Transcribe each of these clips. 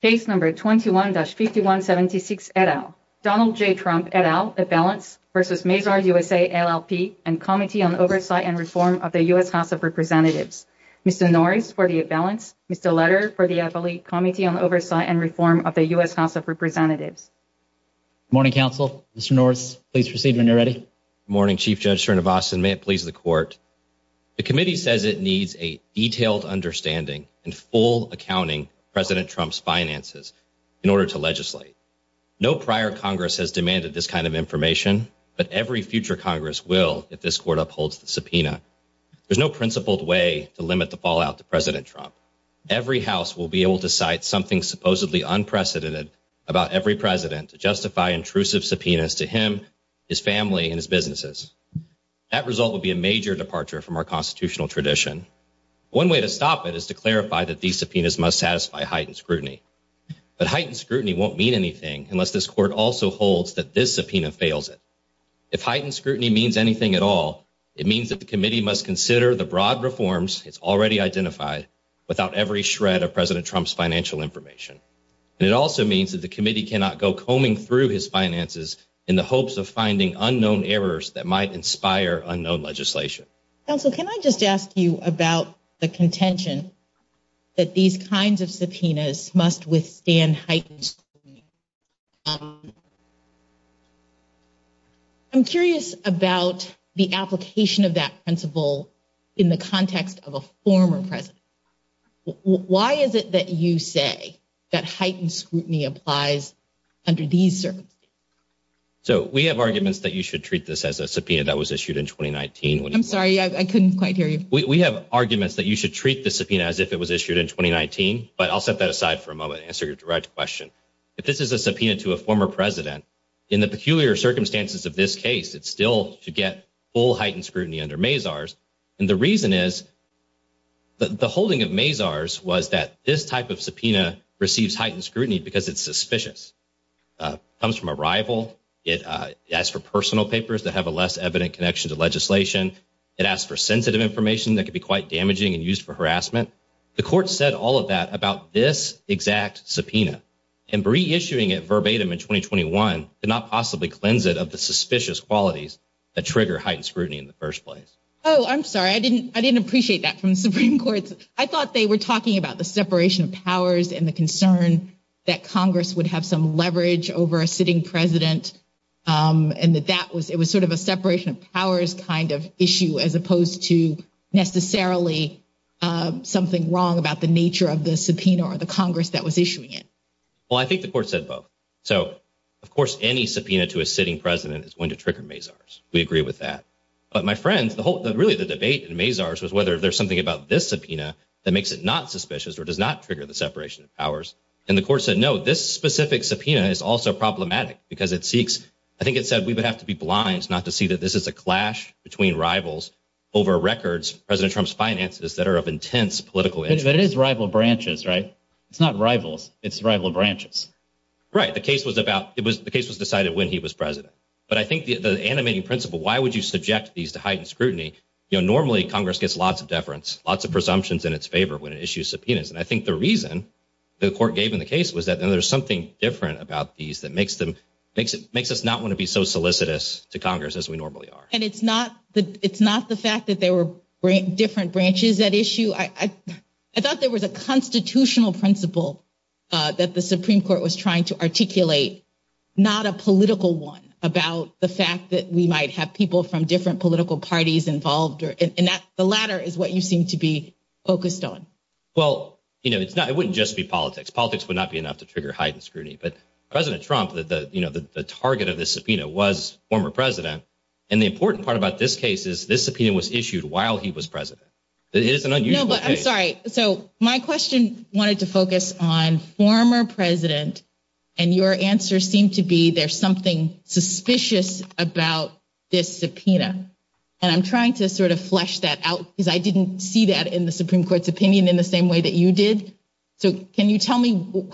Case No. 21-5176, et al., Donald J. Trump, et al., A balance v. Mazars USA, LLP, and Committee on Oversight and Reform of the U.S. House of Representatives. Mr. Norris for the A balance, Mr. Letter for the affiliate, Committee on Oversight and Reform of the U.S. House of Representatives. Good morning, counsel. Mr. Norris, please proceed when you're ready. Good morning, Chief Judge Scherner-Boston. May it please the Court. The Committee says it needs a detailed understanding and full accounting of President Trump's finances in order to legislate. No prior Congress has demanded this kind of information, but every future Congress will if this Court upholds the subpoena. There's no principled way to limit the fallout to President Trump. Every House will be able to cite something supposedly unprecedented about every President to justify intrusive subpoenas to him, his family, and his businesses. That result would be a major departure from our constitutional tradition. One way to stop it is to clarify that these subpoenas must satisfy heightened scrutiny. But heightened scrutiny won't mean anything unless this Court also holds that this subpoena fails it. If heightened scrutiny means anything at all, it means that the Committee must consider the broad reforms it's already identified without every shred of President Trump's financial information. It also means that the Committee cannot go combing through his finances in the hopes of finding unknown errors that might inspire unknown legislation. Counsel, can I just ask you about the contention that these kinds of subpoenas must withstand heightened scrutiny? I'm curious about the application of that principle in the context of a former President. Why is it that you say that heightened scrutiny applies under these circumstances? So, we have arguments that you should treat this as a subpoena that was issued in 2019. I'm sorry, I couldn't quite hear you. We have arguments that you should treat the subpoena as if it was issued in 2019, but I'll set that aside for a moment and answer your direct question. If this is a subpoena to a former President, in the peculiar circumstances of this case, it's still to get full heightened scrutiny under Mazar's. And the reason is, the holding of Mazar's was that this type of subpoena receives heightened scrutiny because it's suspicious. It comes from a rival. It asks for personal papers that have a less evident connection to legislation. It asks for sensitive information that could be quite damaging and used for harassment. The Court said all of that about this exact subpoena. Can reissuing it verbatim in 2021 not possibly cleanse it of the suspicious qualities that trigger heightened scrutiny in the first place? Oh, I'm sorry. I didn't appreciate that from the Supreme Court. I thought they were talking about the separation of powers and the concern that Congress would have some leverage over a sitting President. And that it was sort of a separation of powers kind of issue as opposed to necessarily something wrong about the nature of the subpoena or the Congress that was issuing it. Well, I think the Court said both. So, of course, any subpoena to a sitting President is going to trigger Mazar's. We agree with that. But, my friend, really the debate in Mazar's was whether there's something about this subpoena that makes it not suspicious or does not trigger the separation of powers. And the Court said, no, this specific subpoena is also problematic because it seeks – I think it said we would have to be blind not to see that this is a clash between rivals over records of President Trump's finances that are of intense political interest. But it is rival branches, right? It's not rivals. It's rival branches. Right. The case was about – the case was decided when he was President. But I think the animating principle, why would you subject these to heightened scrutiny, you know, normally Congress gets lots of deference, lots of presumptions in its favor when it issues subpoenas. And I think the reason the Court gave in the case was that there's something different about these that makes us not want to be so solicitous to Congress as we normally are. And it's not the fact that there were different branches at issue. I thought there was a constitutional principle that the Supreme Court was trying to articulate, not a political one, about the fact that we might have people from different political parties involved. And the latter is what you seem to be focused on. Well, you know, it wouldn't just be politics. Politics would not be enough to trigger heightened scrutiny. But President Trump, you know, the target of the subpoena was former President. And the important part about this case is this subpoena was issued while he was President. It is an unusual case. I'm sorry. So my question wanted to focus on former President. And your answer seemed to be there's something suspicious about this subpoena. And I'm trying to sort of flesh that out because I didn't see that in the Supreme Court's opinion in the same way that you did. So can you tell me,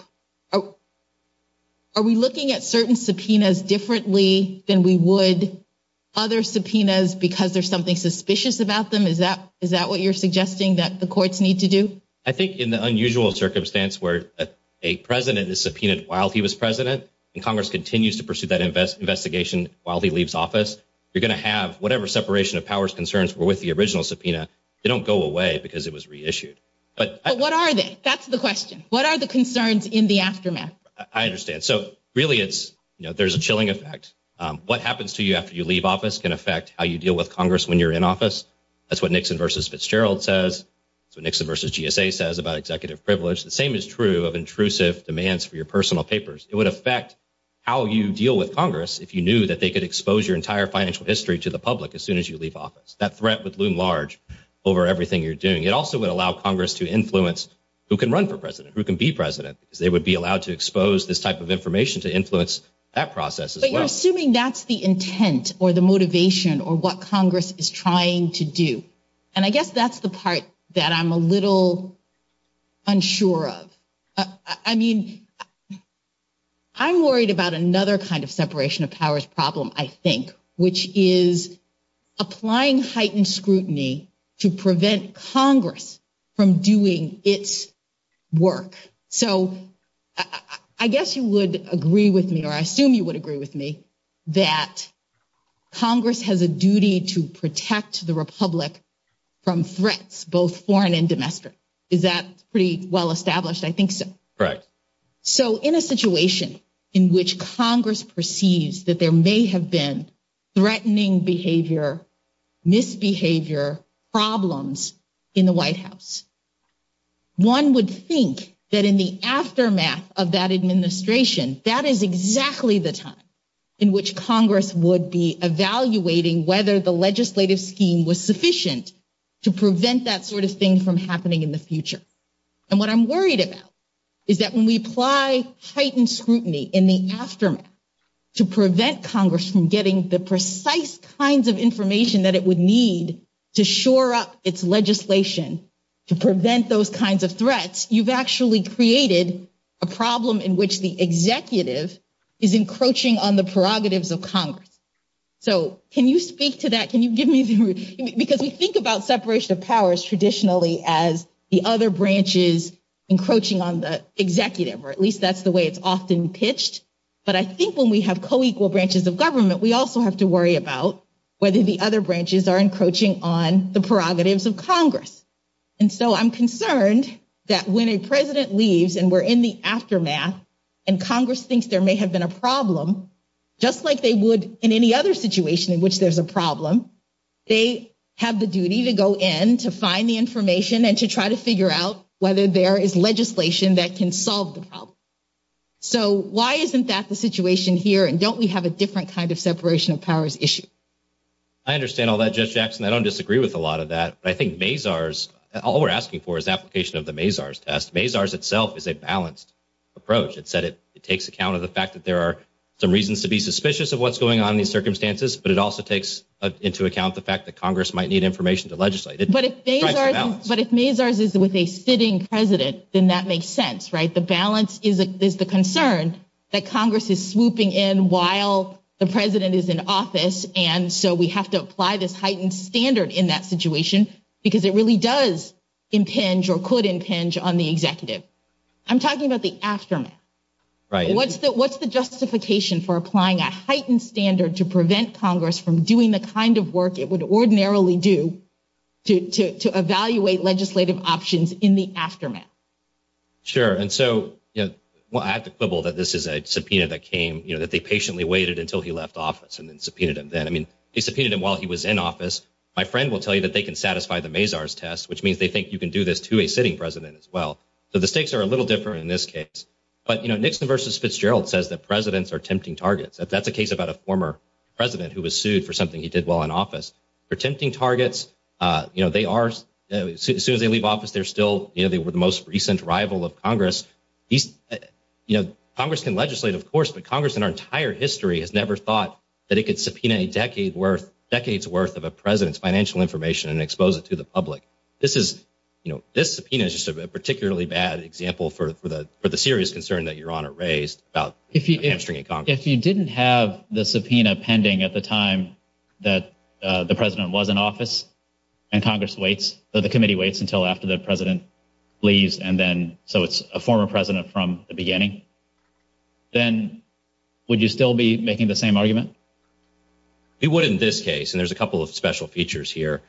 are we looking at certain subpoenas differently than we would other subpoenas because there's something suspicious about them? Is that what you're suggesting that the courts need to do? I think in the unusual circumstance where a President is subpoenaed while he was President, and Congress continues to pursue that investigation while he leaves office, you're going to have whatever separation of powers concerns were with the original subpoena, they don't go away because it was reissued. But what are they? That's the question. What are the concerns in the aftermath? I understand. So really it's, you know, there's a chilling effect. What happens to you after you leave office can affect how you deal with Congress when you're in office. That's what Nixon v. Fitzgerald says. That's what Nixon v. GSA says about executive privilege. The same is true of intrusive demands for your personal papers. It would affect how you deal with Congress if you knew that they could expose your entire financial history to the public as soon as you leave office. That threat would loom large over everything you're doing. It also would allow Congress to influence who can run for President, who can be President. They would be allowed to expose this type of information to influence that process as well. But you're assuming that's the intent or the motivation or what Congress is trying to do. And I guess that's the part that I'm a little unsure of. I mean, I'm worried about another kind of separation of powers problem, I think, which is applying heightened scrutiny to prevent Congress from doing its work. So I guess you would agree with me, or I assume you would agree with me, that Congress has a duty to protect the Republic from threats, both foreign and domestic. Is that pretty well established? I think so. So in a situation in which Congress perceives that there may have been threatening behavior, misbehavior problems in the White House, one would think that in the aftermath of that administration, that is exactly the time in which Congress would be evaluating whether the legislative scheme was sufficient to prevent that sort of thing from happening in the future. And what I'm worried about is that when we apply heightened scrutiny in the aftermath to prevent Congress from getting the precise kinds of information that it would need to shore up its legislation to prevent those kinds of threats, you've actually created a problem in which the executive is encroaching on the prerogatives of Congress. So can you speak to that? Can you give me the... Because we think about separation of powers traditionally as the other branches encroaching on the executive, or at least that's the way it's often pitched. But I think when we have co-equal branches of government, we also have to worry about whether the other branches are encroaching on the prerogatives of Congress. And so I'm concerned that when a president leaves and we're in the aftermath and Congress thinks there may have been a problem, just like they would in any other situation in which there's a problem, they have the duty to go in to find the information and to try to figure out whether there is legislation that can solve the problem. So why isn't that the situation here and don't we have a different kind of separation of powers issue? I understand all that, Judge Jackson. I don't disagree with a lot of that. But I think MAZARS, all we're asking for is application of the MAZARS test. MAZARS itself is a balanced approach. It takes account of the fact that there are some reasons to be suspicious of what's going on in these circumstances. But it also takes into account the fact that Congress might need information to legislate. But if MAZARS is with a sitting president, then that makes sense, right? The balance is the concern that Congress is swooping in while the president is in office. And so we have to apply this heightened standard in that situation because it really does impinge or could impinge on the executive. I'm talking about the aftermath. What's the justification for applying a heightened standard to prevent Congress from doing the kind of work it would ordinarily do to evaluate legislative options in the aftermath? Sure. And so I have to quibble that this is a subpoena that came, that they patiently waited until he left office and then subpoenaed him then. I mean, they subpoenaed him while he was in office. My friend will tell you that they can satisfy the MAZARS test, which means they think you can do this to a sitting president as well. So the stakes are a little different in this case. But Nixon versus Fitzgerald says that presidents are tempting targets. That's a case about a former president who was sued for something he did well in office. They're tempting targets. As soon as they leave office, they're still the most recent rival of Congress. Congress can legislate, of course, but Congress in our entire history has never thought that it could subpoena a decade's worth of a president's financial information and expose it to the public. This subpoena is just a particularly bad example for the serious concern that Your Honor raised. If you didn't have the subpoena pending at the time that the president was in office and the committee waits until after the president leaves, so it's a former president from the beginning, then would you still be making the same argument? You would in this case, and there's a couple of special features here.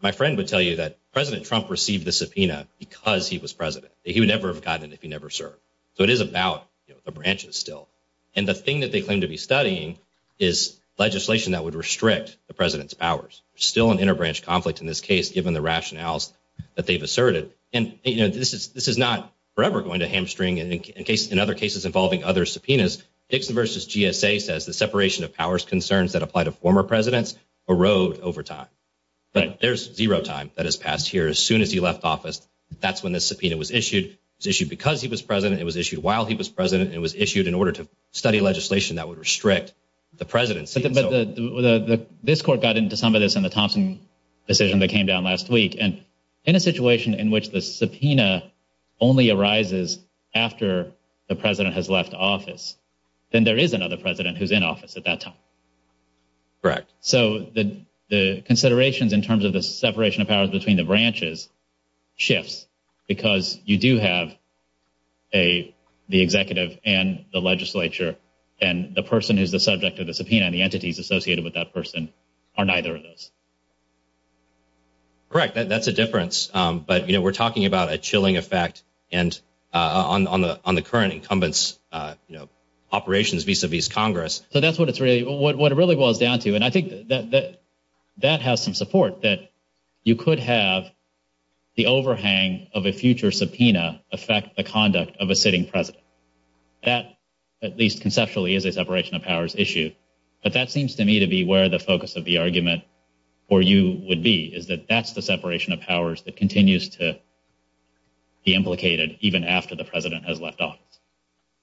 My friend would tell you that President Trump received the subpoena because he was president. He would never have gotten it if he never served. So it is about the branches still. And the thing that they claim to be studying is legislation that would restrict the president's powers. There's still an interbranch conflict in this case, given the rationales that they've asserted. And this is not forever going to hamstring, and in other cases involving other subpoenas, Nixon versus GSA says the separation of powers concerns that apply to former presidents erode over time. Right. There's zero time that has passed here. As soon as he left office, that's when the subpoena was issued. It was issued because he was president. It was issued while he was president. And it was issued in order to study legislation that would restrict the president's— But this court got into some of this in the Thompson decision that came down last week. And in a situation in which the subpoena only arises after the president has left office, then there is another president who's in office at that time. Correct. So the considerations in terms of the separation of powers between the branches shifts because you do have the executive and the legislature, and the person who's the subject of the subpoena and the entities associated with that person are neither of those. Correct. That's a difference. But, you know, we're talking about a chilling effect on the current incumbent's operations vis-a-vis Congress. So that's what it really boils down to. And I think that that has some support, that you could have the overhang of a future subpoena affect the conduct of a sitting president. That, at least conceptually, is a separation of powers issue. But that seems to me to be where the focus of the argument for you would be, is that that's the separation of powers that continues to be implicated even after the president has left office.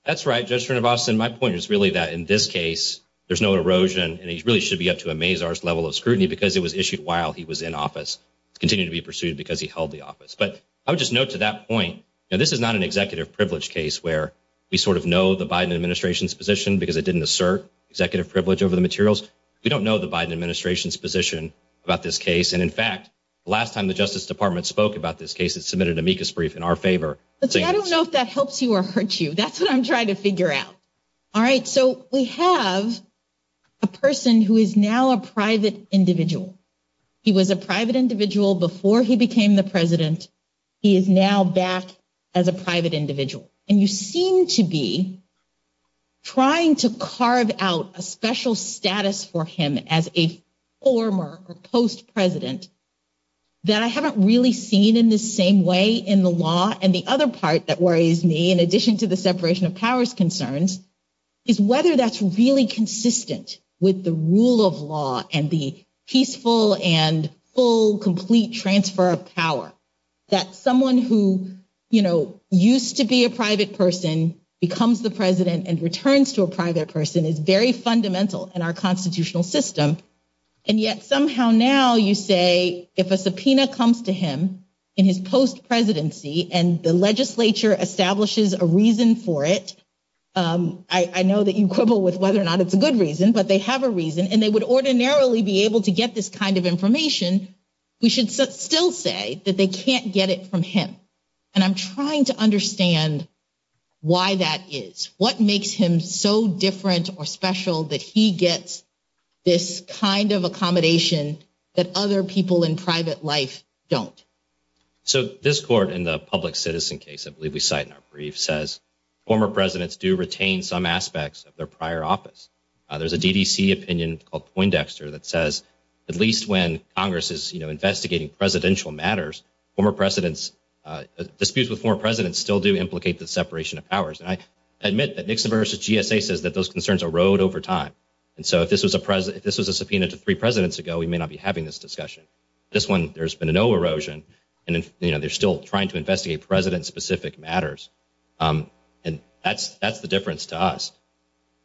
That's right, Judge Srinivasan. My point is really that in this case, there's no erosion, and he really should be up to a Mazar's level of scrutiny because it was issued while he was in office. It continued to be pursued because he held the office. But I would just note to that point, now this is not an executive privilege case where we sort of know the Biden administration's position because it didn't assert executive privilege over the materials. We don't know the Biden administration's position about this case. And, in fact, the last time the Justice Department spoke about this case, it submitted an amicus brief in our favor. I don't know if that helps you or hurts you. That's what I'm trying to figure out. All right, so we have a person who is now a private individual. He was a private individual before he became the president. He is now back as a private individual. And you seem to be trying to carve out a special status for him as a former or post-president that I haven't really seen in the same way in the law. And the other part that worries me, in addition to the separation of powers concerns, is whether that's really consistent with the rule of law and the peaceful and full, complete transfer of power. That someone who, you know, used to be a private person becomes the president and returns to a private person is very fundamental in our constitutional system. And yet somehow now you say if a subpoena comes to him in his post-presidency and the legislature establishes a reason for it, I know that you quibble with whether or not it's a good reason, but they have a reason, and they would ordinarily be able to get this kind of information, we should still say that they can't get it from him. And I'm trying to understand why that is. What makes him so different or special that he gets this kind of accommodation that other people in private life don't? So this court in the public citizen case, I believe we cite in our brief, says former presidents do retain some aspects of their prior office. There's a DDC opinion called Poindexter that says at least when Congress is, you know, investigating presidential matters, former presidents, disputes with former presidents still do implicate the separation of powers. And I admit that Nixon versus GSA says that those concerns erode over time. And so if this was a subpoena to three presidents ago, we may not be having this discussion. This one, there's been no erosion, and, you know, they're still trying to investigate president-specific matters. And that's the difference to us.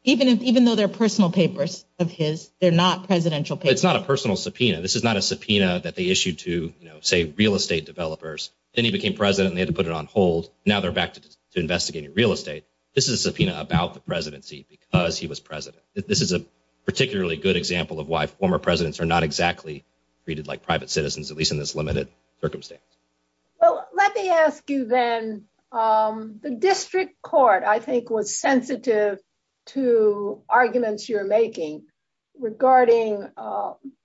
Even though they're personal papers of his, they're not presidential papers? It's not a personal subpoena. This is not a subpoena that they issued to, you know, say, real estate developers. Then he became president and they had to put it on hold. Now they're back to investigating real estate. This is a subpoena about the presidency because he was president. This is a particularly good example of why former presidents are not exactly treated like private citizens, at least in this limited circumstance. Well, let me ask you then, the district court, I think, was sensitive to arguments you're making regarding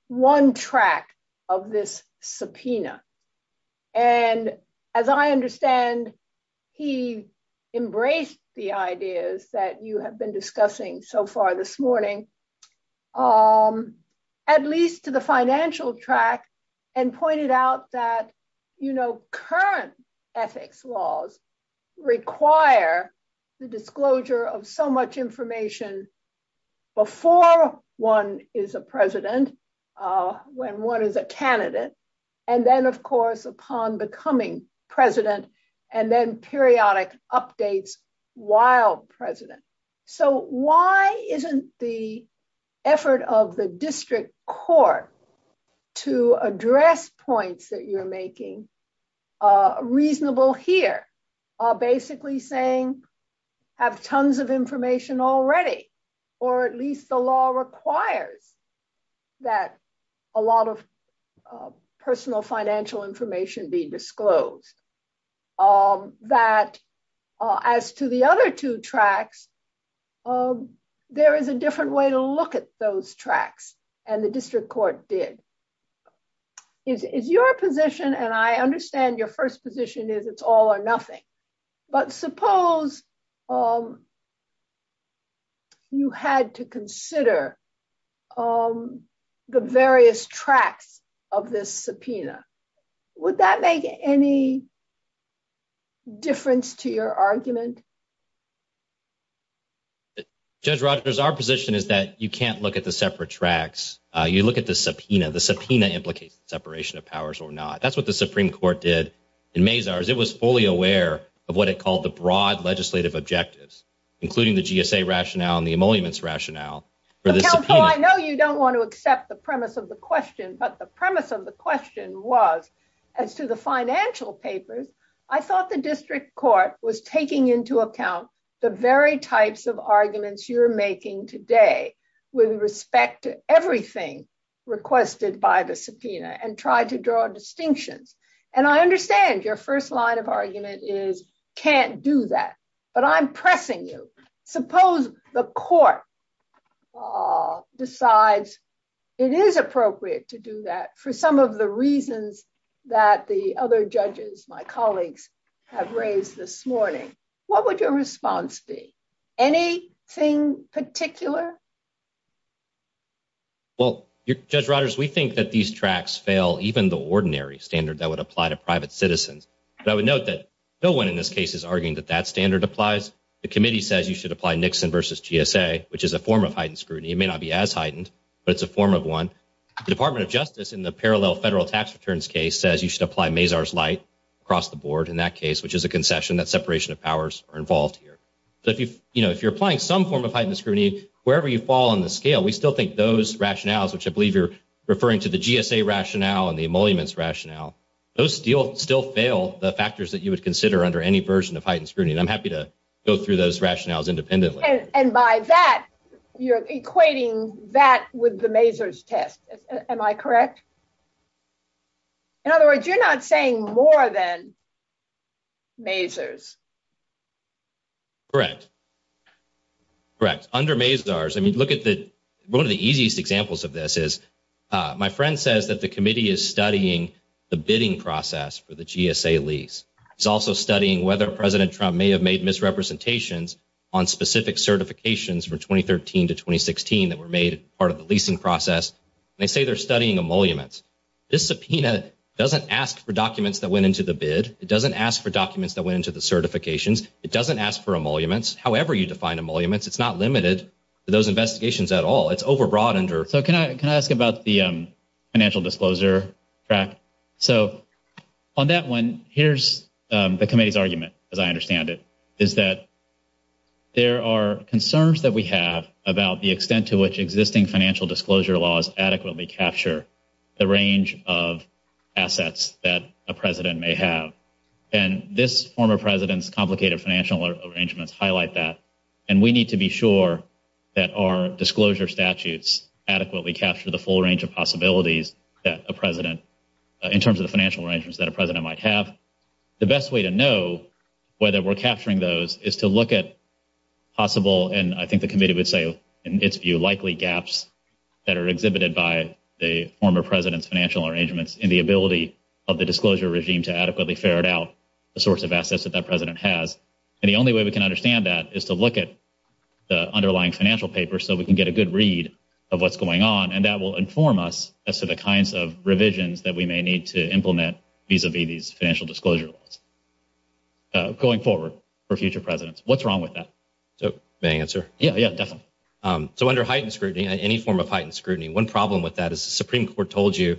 one tract of this subpoena. And as I understand, he embraced the ideas that you have been discussing so far this morning, at least to the financial tract, and pointed out that, you know, current ethics laws require the disclosure of so much information before one is a president, when one is a candidate, and then, of course, upon becoming president, and then periodic updates while president. So why isn't the effort of the district court to address points that you're making reasonable here? Basically saying, have tons of information already, or at least the law requires that a lot of personal financial information be disclosed. That as to the other two tracts, there is a different way to look at those tracts, and the district court did. Is your position, and I understand your first position is it's all or nothing, but suppose you had to consider the various tracts of this subpoena. Would that make any difference to your argument? Judge Rogers, our position is that you can't look at the separate tracts. You look at the subpoena. The subpoena implicates separation of powers or not. That's what the Supreme Court did in Mazars. It was fully aware of what it called the broad legislative objectives, including the GSA rationale and the emoluments rationale. Counsel, I know you don't want to accept the premise of the question, but the premise of the question was, as to the financial papers, I thought the district court was taking into account the very types of arguments you're making today with respect to everything requested by the subpoena and tried to draw a distinction. And I understand your first line of argument is can't do that, but I'm pressing you. Suppose the court decides it is appropriate to do that for some of the reasons that the other judges, my colleagues, have raised this morning. What would your response be? Anything particular? Well, Judge Rogers, we think that these tracts fail even the ordinary standard that would apply to private citizens. But I would note that no one in this case is arguing that that standard applies. The committee says you should apply Nixon versus GSA, which is a form of heightened scrutiny. It may not be as heightened, but it's a form of one. The Department of Justice, in the parallel federal tax returns case, says you should apply Mazars light across the board in that case, which is a concession that separation of powers are involved here. But, you know, if you're applying some form of heightened scrutiny, wherever you fall on the scale, we still think those rationales, which I believe you're referring to the GSA rationale and the emoluments rationale, those still fail the factors that you would consider under any version of heightened scrutiny. And I'm happy to go through those rationales independently. And by that, you're equating that with the Mazars test. Am I correct? In other words, you're not saying more than Mazars. Correct. Correct. Under Mazars, I mean, look at the one of the easiest examples of this is my friend says that the committee is studying the bidding process for the GSA lease. It's also studying whether President Trump may have made misrepresentations on specific certifications from 2013 to 2016 that were made part of the leasing process. They say they're studying emoluments. This subpoena doesn't ask for documents that went into the bid. It doesn't ask for documents that went into the certifications. It doesn't ask for emoluments. However you define emoluments, it's not limited to those investigations at all. It's over-broadened. Can I ask about the financial disclosure? Correct. So on that one, here's the committee's argument, as I understand it, is that there are concerns that we have about the extent to which existing financial disclosure laws adequately capture the range of assets that a president may have. And this former president's complicated financial arrangements highlight that, and we need to be sure that our disclosure statutes adequately capture the full range of possibilities that a president, in terms of the financial arrangements that a president might have. The best way to know whether we're capturing those is to look at possible, and I think the committee would say in this view, the source of assets that that president has. And the only way we can understand that is to look at the underlying financial papers so we can get a good read of what's going on, and that will inform us as to the kinds of revisions that we may need to implement vis-a-vis financial disclosure going forward for future presidents. What's wrong with that? May I answer? Yeah, yeah, definitely. So under heightened scrutiny, any form of heightened scrutiny, one problem with that is the Supreme Court told you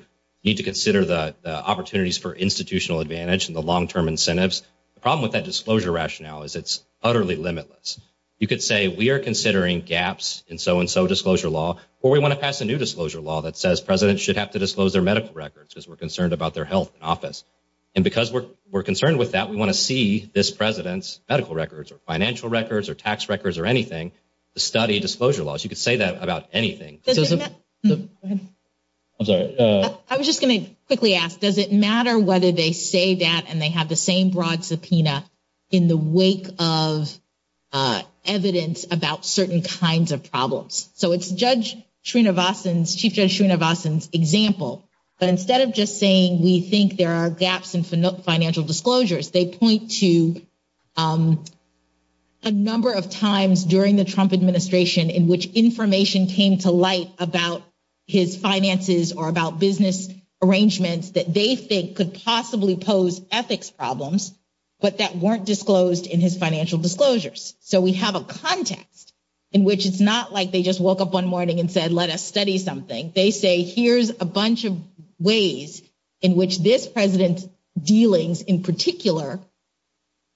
you need to consider the opportunities for institutional advantage and the long-term incentives. The problem with that disclosure rationale is it's utterly limitless. You could say we are considering gaps in so-and-so disclosure law, or we want to pass a new disclosure law that says presidents should have to disclose their medical records because we're concerned about their health and office. And because we're concerned with that, we want to see this president's medical records or financial records or tax records or anything to study disclosure laws. You could say that about anything. Go ahead. I'm sorry. I was just going to quickly ask, does it matter whether they say that and they have the same broad subpoena in the wake of evidence about certain kinds of problems? So it's Chief Judge Srinivasan's example, but instead of just saying we think there are gaps in financial disclosures, they point to a number of times during the Trump administration in which information came to light about his finances or about business arrangements that they think could possibly pose ethics problems, but that weren't disclosed in his financial disclosures. So we have a context in which it's not like they just woke up one morning and said, let us study something. They say here's a bunch of ways in which this president's dealings in particular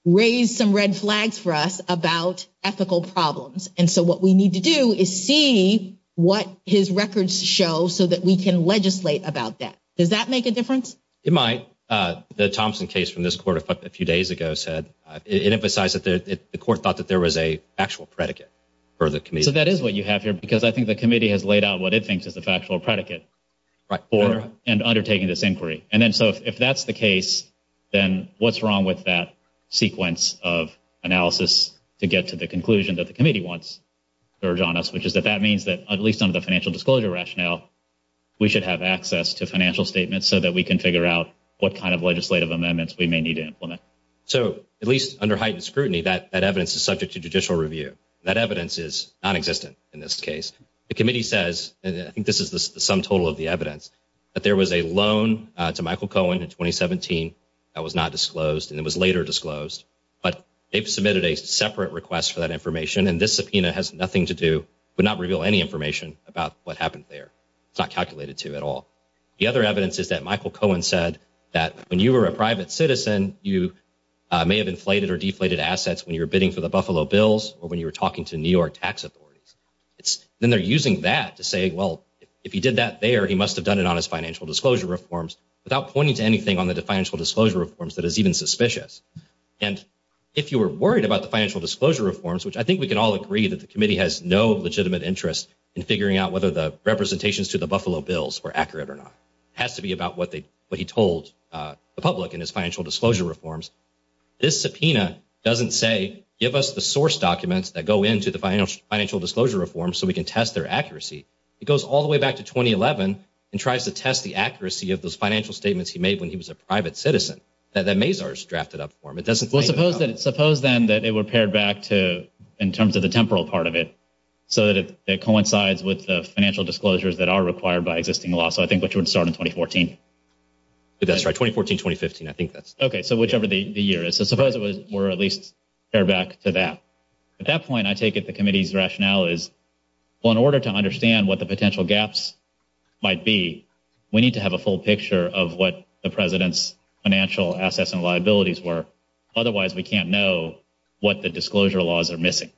raised some red flags for us about ethical problems. And so what we need to do is see what his records show so that we can legislate about that. Does that make a difference? It might. The Thompson case from this court a few days ago said it emphasized that the court thought that there was an actual predicate for the committee. So that is what you have here because I think the committee has laid out what it thinks is a factual predicate for undertaking this inquiry. And then so if that's the case, then what's wrong with that sequence of analysis to get to the conclusion that the committee wants to urge on us, which is that that means that at least under the financial disclosure rationale, we should have access to financial statements so that we can figure out what kind of legislative amendments we may need to implement. So at least under heightened scrutiny, that evidence is subject to judicial review. That evidence is nonexistent in this case. The committee says, and I think this is the sum total of the evidence, that there was a loan to Michael Cohen in 2017 that was not disclosed and it was later disclosed. But they've submitted a separate request for that information, and this subpoena has nothing to do but not reveal any information about what happened there. It's not calculated to at all. The other evidence is that Michael Cohen said that when you were a private citizen, you may have inflated or deflated assets when you were bidding for the Buffalo Bills or when you were talking to New York tax authorities. Then they're using that to say, well, if he did that there, he must have done it on his financial disclosure reforms without pointing to anything on the financial disclosure reforms that is even suspicious. And if you were worried about the financial disclosure reforms, which I think we can all agree that the committee has no legitimate interest in figuring out whether the representations to the Buffalo Bills were accurate or not. It has to be about what he told the public in his financial disclosure reforms. This subpoena doesn't say, give us the source documents that go into the financial disclosure reforms so we can test their accuracy. It goes all the way back to 2011 and tries to test the accuracy of those financial statements he made when he was a private citizen that the Mazars drafted up for him. It doesn't – Well, suppose then that they were pared back to in terms of the temporal part of it so that it coincides with the financial disclosures that are required by existing law, so I think which would start in 2014. That's right, 2014, 2015. I think that's – Okay, so whichever the year is. So suppose it were at least pared back to that. At that point, I take it the committee's rationale is, well, in order to understand what the potential gaps might be, we need to have a full picture of what the president's financial assets and liabilities were. Otherwise, we can't know what the disclosure laws are missing.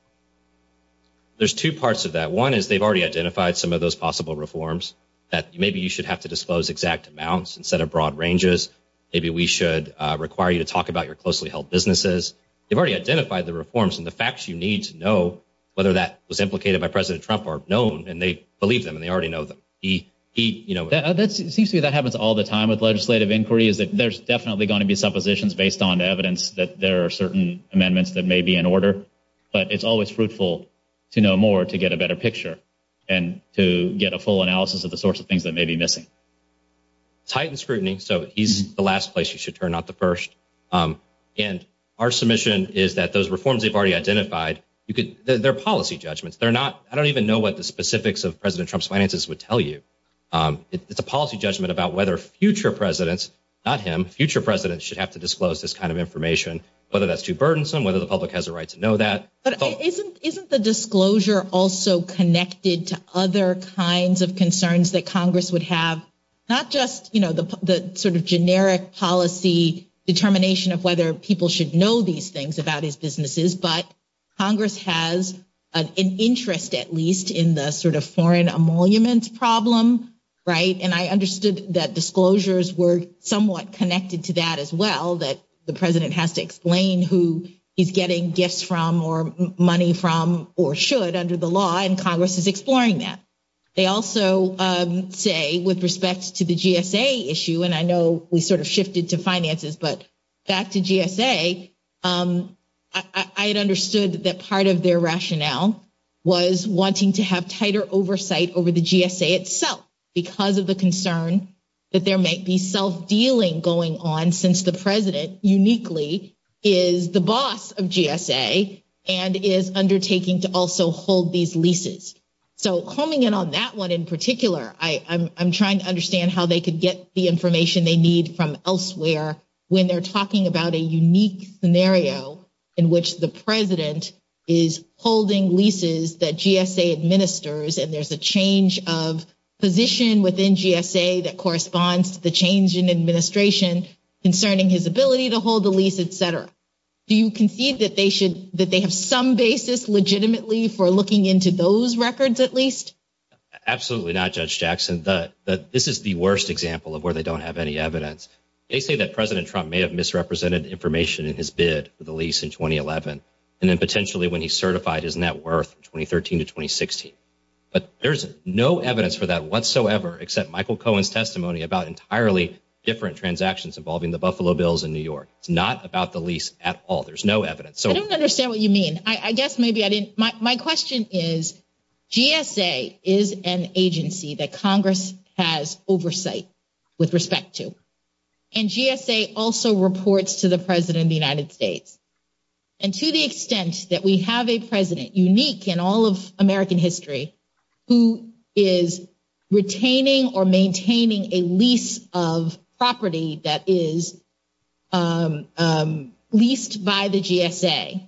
There's two parts of that. One is they've already identified some of those possible reforms that maybe you should have to dispose exact amounts instead of broad ranges. Maybe we should require you to talk about your closely held businesses. They've already identified the reforms, and the facts you need to know whether that was implicated by President Trump are known, and they believe them, and they already know them. It seems to me that happens all the time with legislative inquiries. There's definitely going to be suppositions based on evidence that there are certain amendments that may be in order, but it's always fruitful to know more to get a better picture and to get a full analysis of the sorts of things that may be missing. Tight and scrutiny, so he's the last place you should turn, not the first. Our submission is that those reforms they've already identified, they're policy judgments. I don't even know what the specifics of President Trump's finances would tell you. It's a policy judgment about whether future presidents, not him, future presidents should have to disclose this kind of information, whether that's too burdensome, whether the public has a right to know that. But isn't the disclosure also connected to other kinds of concerns that Congress would have? Not just the sort of generic policy determination of whether people should know these things about his businesses, but Congress has an interest at least in the sort of foreign emoluments problem, right? And I understood that disclosures were somewhat connected to that as well, that the president has to explain who he's getting gifts from or money from or should under the law, and Congress is exploring that. They also say with respect to the GSA issue, and I know we sort of shifted to finances, but back to GSA, I had understood that part of their rationale was wanting to have tighter oversight over the GSA itself because of the concern that there might be self-dealing going on since the president uniquely is the boss of GSA and is undertaking to also hold these leases. So coming in on that one in particular, I'm trying to understand how they could get the information they need from elsewhere when they're talking about a unique scenario in which the president is holding leases that GSA administers and there's a change of position within GSA that corresponds to the change in administration concerning his ability to hold the lease, et cetera. Do you concede that they have some basis legitimately for looking into those records at least? Absolutely not, Judge Jackson. This is the worst example of where they don't have any evidence. They say that President Trump may have misrepresented information in his bid for the lease in 2011 and then potentially when he certified his net worth in 2013 to 2016, but there's no evidence for that whatsoever except Michael Cohen's testimony about entirely different transactions involving the Buffalo Bills in New York. It's not about the lease at all. There's no evidence. I don't understand what you mean. My question is GSA is an agency that Congress has oversight with respect to, and GSA also reports to the President of the United States. And to the extent that we have a president unique in all of American history who is retaining or maintaining a lease of property that is leased by the GSA,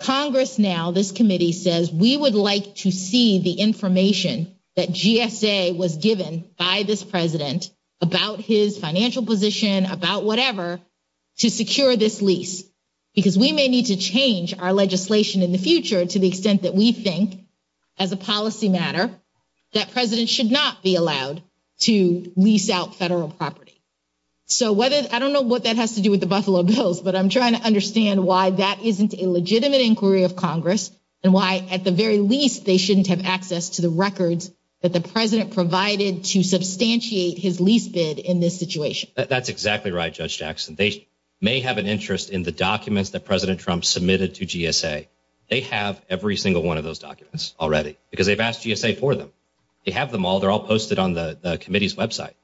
Congress now, this committee, says we would like to see the information that GSA was given by this president about his financial position, about whatever, to secure this lease because we may need to change our legislation in the future to the extent that we think as a policy matter that presidents should not be allowed to lease out federal property. So I don't know what that has to do with the Buffalo Bills, but I'm trying to understand why that isn't a legitimate inquiry of Congress and why at the very least they shouldn't have access to the records that the president provided to substantiate his lease bid in this situation. That's exactly right, Judge Jackson. They may have an interest in the documents that President Trump submitted to GSA. They have every single one of those documents already because they've asked GSA for them. They have them all. They're all posted on the committee's website.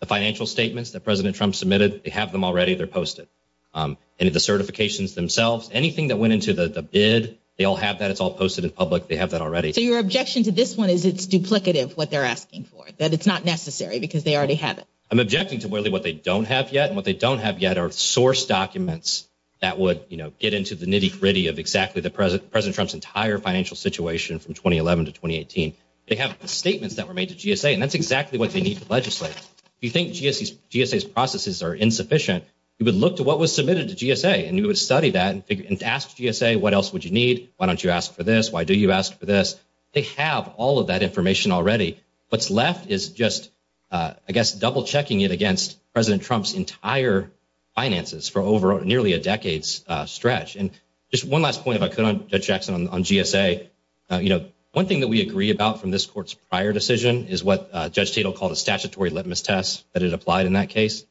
The financial statements that President Trump submitted, they have them already. They're posted. And the certifications themselves, anything that went into the bid, they all have that. It's all posted in public. They have that already. So your objection to this one is it's duplicative what they're asking for, that it's not necessary because they already have it. I'm objecting to really what they don't have yet, and what they don't have yet are source documents that would get into the nitty-gritty of exactly President Trump's entire financial situation from 2011 to 2018. They have statements that were made to GSA, and that's exactly what they need to legislate. If you think GSA's processes are insufficient, you would look to what was submitted to GSA, and you would study that and ask GSA what else would you need, why don't you ask for this, why do you ask for this. They have all of that information already. What's left is just, I guess, double-checking it against President Trump's entire finances for over nearly a decade's stretch. And just one last point, if I could, Judge Jackson, on GSA. You know, one thing that we agree about from this court's prior decision is what Judge Tatel called a statutory litmus test that it applied in that case.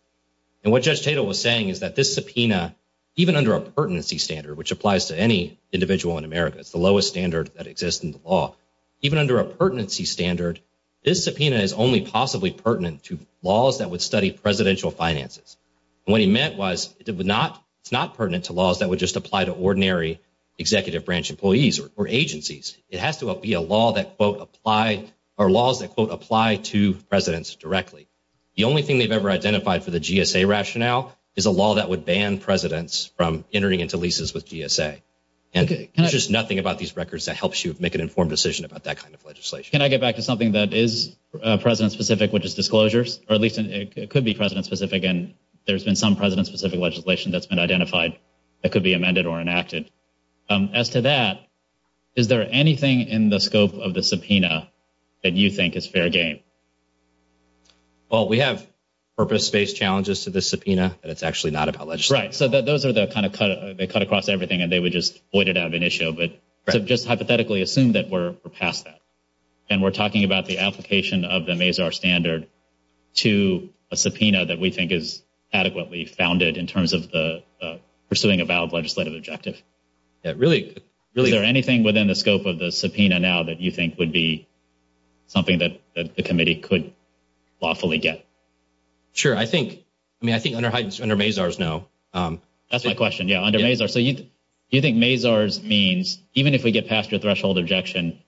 And what Judge Tatel was saying is that this subpoena, even under a pertinency standard, which applies to any individual in America, it's the lowest standard that exists in the law, even under a pertinency standard, this subpoena is only possibly pertinent to laws that would study presidential finances. And what he meant was it's not pertinent to laws that would just apply to ordinary executive branch employees or agencies. It has to be a law that, quote, apply, or laws that, quote, apply to presidents directly. The only thing they've ever identified for the GSA rationale is a law that would ban presidents from entering into leases with GSA. And there's just nothing about these records that helps you make an informed decision about that kind of legislation. Can I get back to something that is president-specific, which is disclosures? Or at least it could be president-specific, and there's been some president-specific legislation that's been identified that could be amended or enacted. As to that, is there anything in the scope of the subpoena that you think is fair game? Well, we have purpose-based challenges to the subpoena, but it's actually not about legislation. Right. So those are the kind of – they cut across everything, and they would just void it out of an issue. But just hypothetically assume that we're past that, and we're talking about the application of the MAZR standard to a subpoena that we think is adequately founded in terms of pursuing a valid legislative objective. Is there anything within the scope of the subpoena now that you think would be something that the committee could lawfully get? Sure. I think – I mean, I think under MAZR is no. That's my question. Yeah, under MAZR. So do you think MAZR means, even if we get past your threshold objection,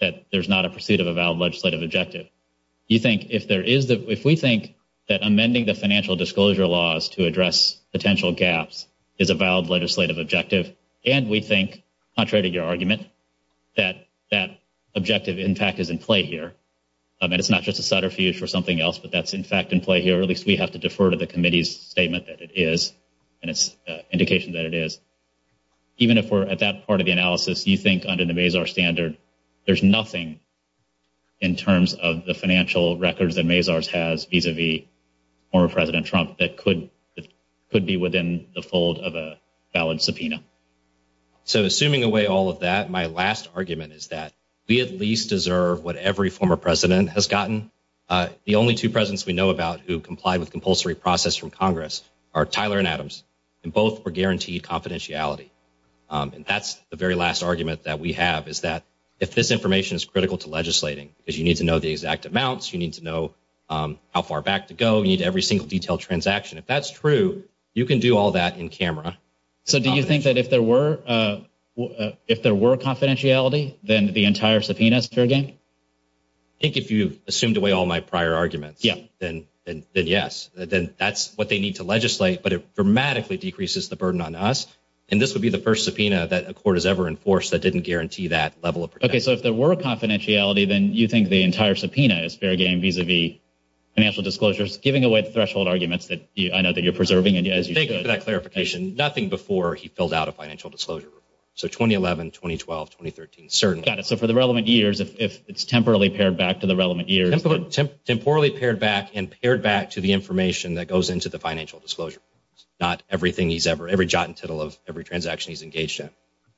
that there's not a pursuit of a valid legislative objective? Do you think – if there is – if we think that amending the financial disclosure laws to address potential gaps is a valid legislative objective, and we think, contrary to your argument, that that objective, in fact, is in play here – I mean, it's not just a centrifuge or something else, but that's, in fact, in play here, at least we have to defer to the committee's statement that it is and its indication that it is – even if we're at that part of the analysis, do you think under the MAZR standard there's nothing in terms of the financial records that MAZR has vis-a-vis former President Trump that could be within the fold of a valid subpoena? So assuming away all of that, my last argument is that we at least deserve what every former president has gotten. The only two presidents we know about who complied with compulsory process from Congress are Tyler and Adams, and both were guaranteed confidentiality. And that's the very last argument that we have is that if this information is critical to legislating, because you need to know the exact amounts. You need to know how far back to go. You need every single detailed transaction. If that's true, you can do all that in camera. So do you think that if there were confidentiality, then the entire subpoena is fair game? I think if you assumed away all my prior arguments, then yes. That's what they need to legislate, but it dramatically decreases the burden on us. And this would be the first subpoena that a court has ever enforced that didn't guarantee that level of protection. Okay, so if there were confidentiality, then you think the entire subpoena is fair game vis-a-vis financial disclosures, giving away threshold arguments that you're preserving? Nothing before he filled out a financial disclosure. So 2011, 2012, 2013, certainly. Got it. So for the relevant years, it's temporarily pared back to the relevant years. Temporarily pared back and pared back to the information that goes into the financial disclosure. Not everything he's ever – every jot and tittle of every transaction he's engaged in.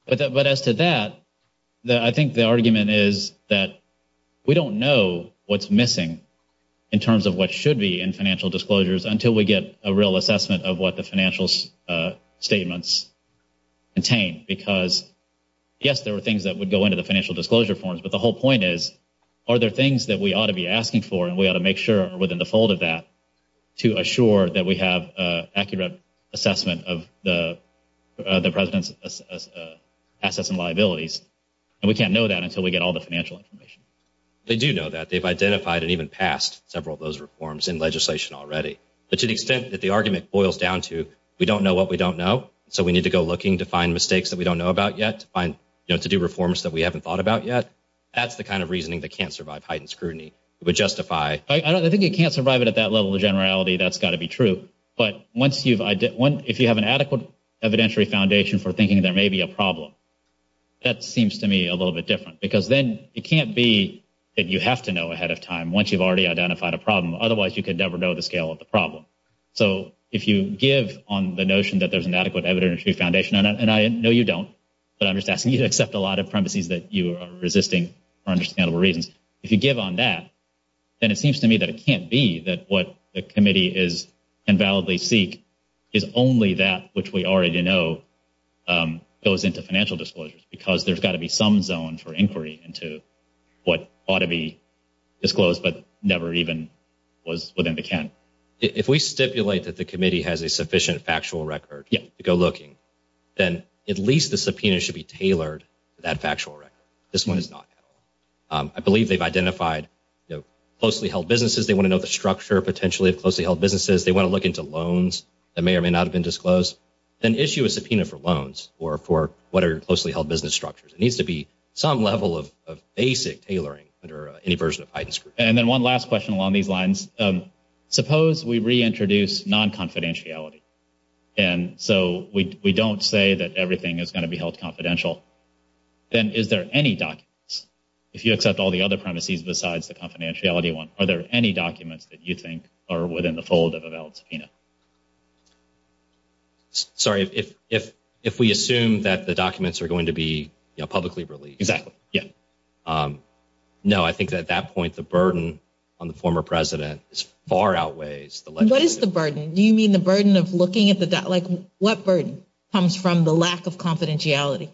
But as to that, I think the argument is that we don't know what's missing in terms of what should be in financial disclosures until we get a real assessment of what the financial statements contain. Because, yes, there are things that would go into the financial disclosure forms, but the whole point is, are there things that we ought to be asking for and we ought to make sure are within the fold of that to assure that we have accurate assessment of the president's assets and liabilities? And we can't know that until we get all the financial information. They do know that. They've identified and even passed several of those reforms in legislation already. But to the extent that the argument boils down to, we don't know what we don't know, so we need to go looking to find mistakes that we don't know about yet, to do reforms that we haven't thought about yet. That's the kind of reasoning that can't survive heightened scrutiny. It would justify – I think you can't survive it at that level of generality. That's got to be true. But if you have an adequate evidentiary foundation for thinking there may be a problem, that seems to me a little bit different. Because then it can't be that you have to know ahead of time once you've already identified a problem. Otherwise, you could never know the scale of the problem. So if you give on the notion that there's an adequate evidentiary foundation – and I know you don't, but I'm just asking you to accept a lot of premises that you are resisting for understandable reasons. If you give on that, then it seems to me that it can't be that what the committee can validly seek is only that which we already know goes into financial disclosures because there's got to be some zone for inquiry into what ought to be disclosed but never even was within the count. If we stipulate that the committee has a sufficient factual record to go looking, then at least the subpoena should be tailored to that factual record. This one is not. I believe they've identified closely-held businesses. They want to know the structure, potentially, of closely-held businesses. They want to look into loans that may or may not have been disclosed. Then issue a subpoena for loans or for what are your closely-held business structures. It needs to be some level of basic tailoring that are any version of financial disclosures. And then one last question along these lines. Suppose we reintroduce non-confidentiality, and so we don't say that everything is going to be held confidential. Then is there any document – if you accept all the other premises besides the confidentiality one – are there any documents that you think are within the fold of a valid subpoena? Sorry, if we assume that the documents are going to be publicly released. Exactly. No, I think at that point, the burden on the former president far outweighs. What is the burden? Do you mean the burden of looking at the – like, what burden comes from the lack of confidentiality?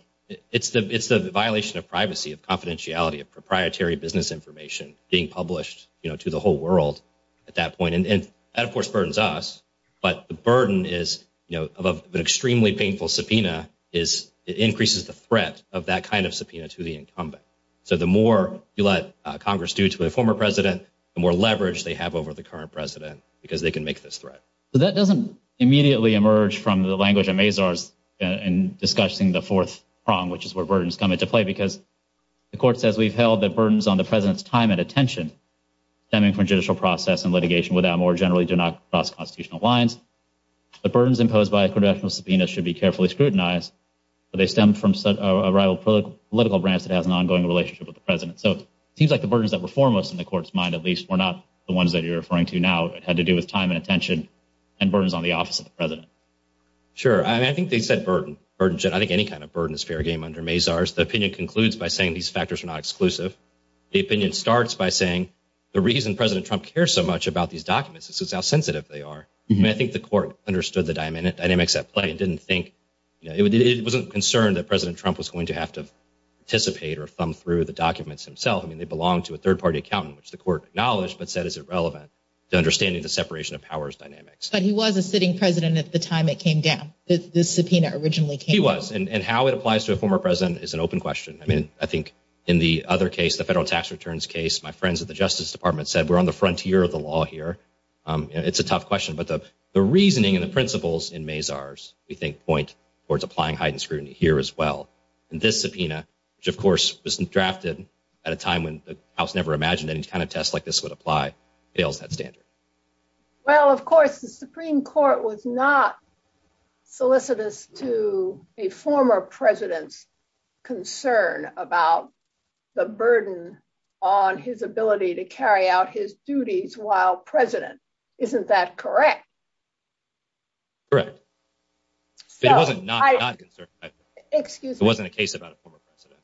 It's the violation of privacy, of confidentiality, of proprietary business information being published to the whole world at that point. And that, of course, burdens us, but the burden of an extremely painful subpoena increases the threat of that kind of subpoena to the incumbent. So the more you let Congress do to the former president, the more leverage they have over the current president because they can make this threat. So that doesn't immediately emerge from the language of Mazars in discussing the fourth prong, which is where burdens come into play, because the court says we've held that burdens on the president's time and attention stemming from judicial process and litigation without more generally do not cross constitutional lines. The burdens imposed by a confidential subpoena should be carefully scrutinized, but they stem from a rival political branch that has an ongoing relationship with the president. So it seems like the burdens that were foremost in the court's mind, at least, were not the ones that you're referring to now. It had to do with time and attention and burdens on the office of the president. Sure. I think they've said burden. I think any kind of burden is fair game under Mazars. The opinion concludes by saying these factors are not exclusive. The opinion starts by saying the reason President Trump cares so much about these documents is how sensitive they are. I think the court understood the dynamics at play. It wasn't concerned that President Trump was going to have to participate or thumb through the documents himself. I mean, they belong to a third-party account, which the court acknowledged but said is irrelevant to understanding the separation of powers dynamics. But he was a sitting president at the time it came down. This subpoena originally came down. He was. And how it applies to a former president is an open question. I mean, I think in the other case, the federal tax returns case, my friends at the Justice Department said we're on the frontier of the law here. It's a tough question, but the reasoning and the principles in Mazars, I think, point towards applying heightened scrutiny here as well. And this subpoena, which, of course, was drafted at a time when the House never imagined any kind of test like this would apply, failed to have standards. Well, of course, the Supreme Court was not solicitous to a former president's concern about the burden on his ability to carry out his duties while president. Isn't that correct? Correct. It wasn't a case about a former president.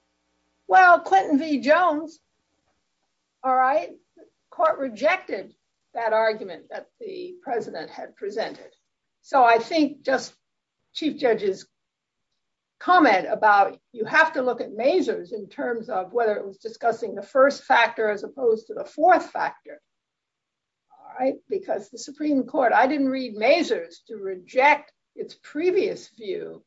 Well, Clinton v. Jones, all right, the court rejected that argument that the president had presented. So I think just Chief Judge's comment about you have to look at Mazars in terms of whether it was discussing the first factor as opposed to the fourth factor. Because the Supreme Court, I didn't read Mazars to reject its previous view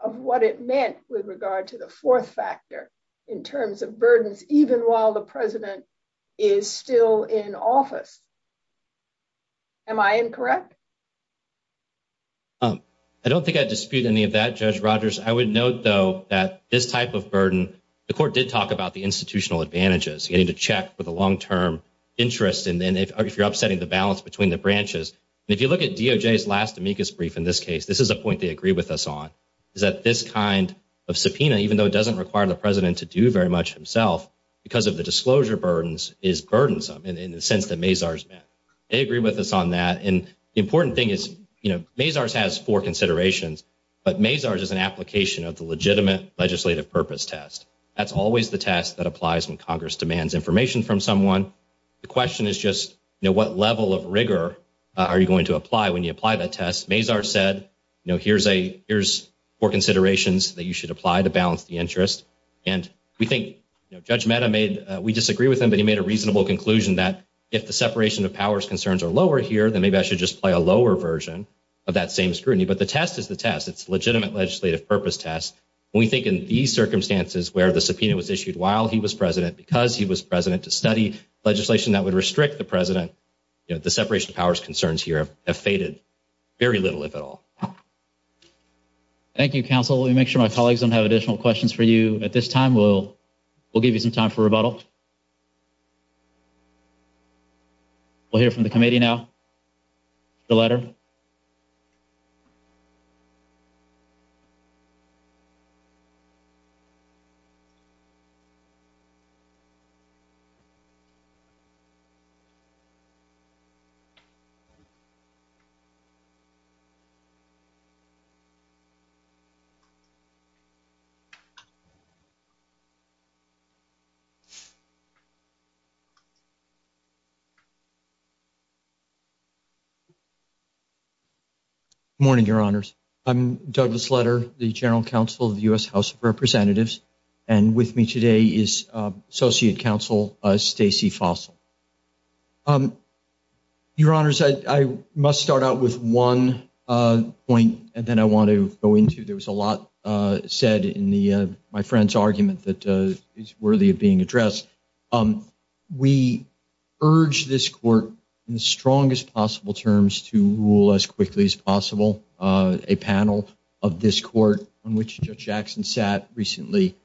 of what it meant with regard to the fourth factor in terms of burdens, even while the president is still in office. Am I incorrect? I don't think I dispute any of that, Judge Rogers. I would note, though, that this type of burden, the court did talk about the institutional advantages. You need to check for the long-term interest, and then if you're upsetting the balance between the branches. And if you look at DOJ's last amicus brief in this case, this is a point they agreed with us on, is that this kind of subpoena, even though it doesn't require the president to do very much himself, because of the disclosure burdens, is burdensome in the sense that Mazars met. They agreed with us on that. And the important thing is, you know, Mazars has four considerations, but Mazars is an application of the legitimate legislative purpose test. That's always the test that applies when Congress demands information from someone. The question is just, you know, what level of rigor are you going to apply when you apply that test? Mazars said, you know, here's four considerations that you should apply to balance the interest. And we think Judge Mehta made – we disagree with him, but he made a reasonable conclusion that if the separation of powers concerns are lower here, then maybe I should just apply a lower version of that same scrutiny. But the test is the test. It's a legitimate legislative purpose test. And we think in these circumstances where the subpoena was issued while he was president because he was president to study legislation that would restrict the president, you know, the separation of powers concerns here have faded very little, if at all. Thank you, counsel. Let me make sure my colleagues don't have additional questions for you at this time. We'll give you some time for rebuttal. We'll hear from the committee now. The letter. Good morning, Your Honors. I'm Douglas Leder, the General Counsel of the U.S. House of Representatives. And with me today is Associate Counsel Stacey Fossil. Your Honors, I must start out with one point, and then I want to go into – there was a lot said in my friend's argument that is worthy of being addressed. We urge this court in the strongest possible terms to rule as quickly as possible a panel of this court on which Judge Jackson sat recently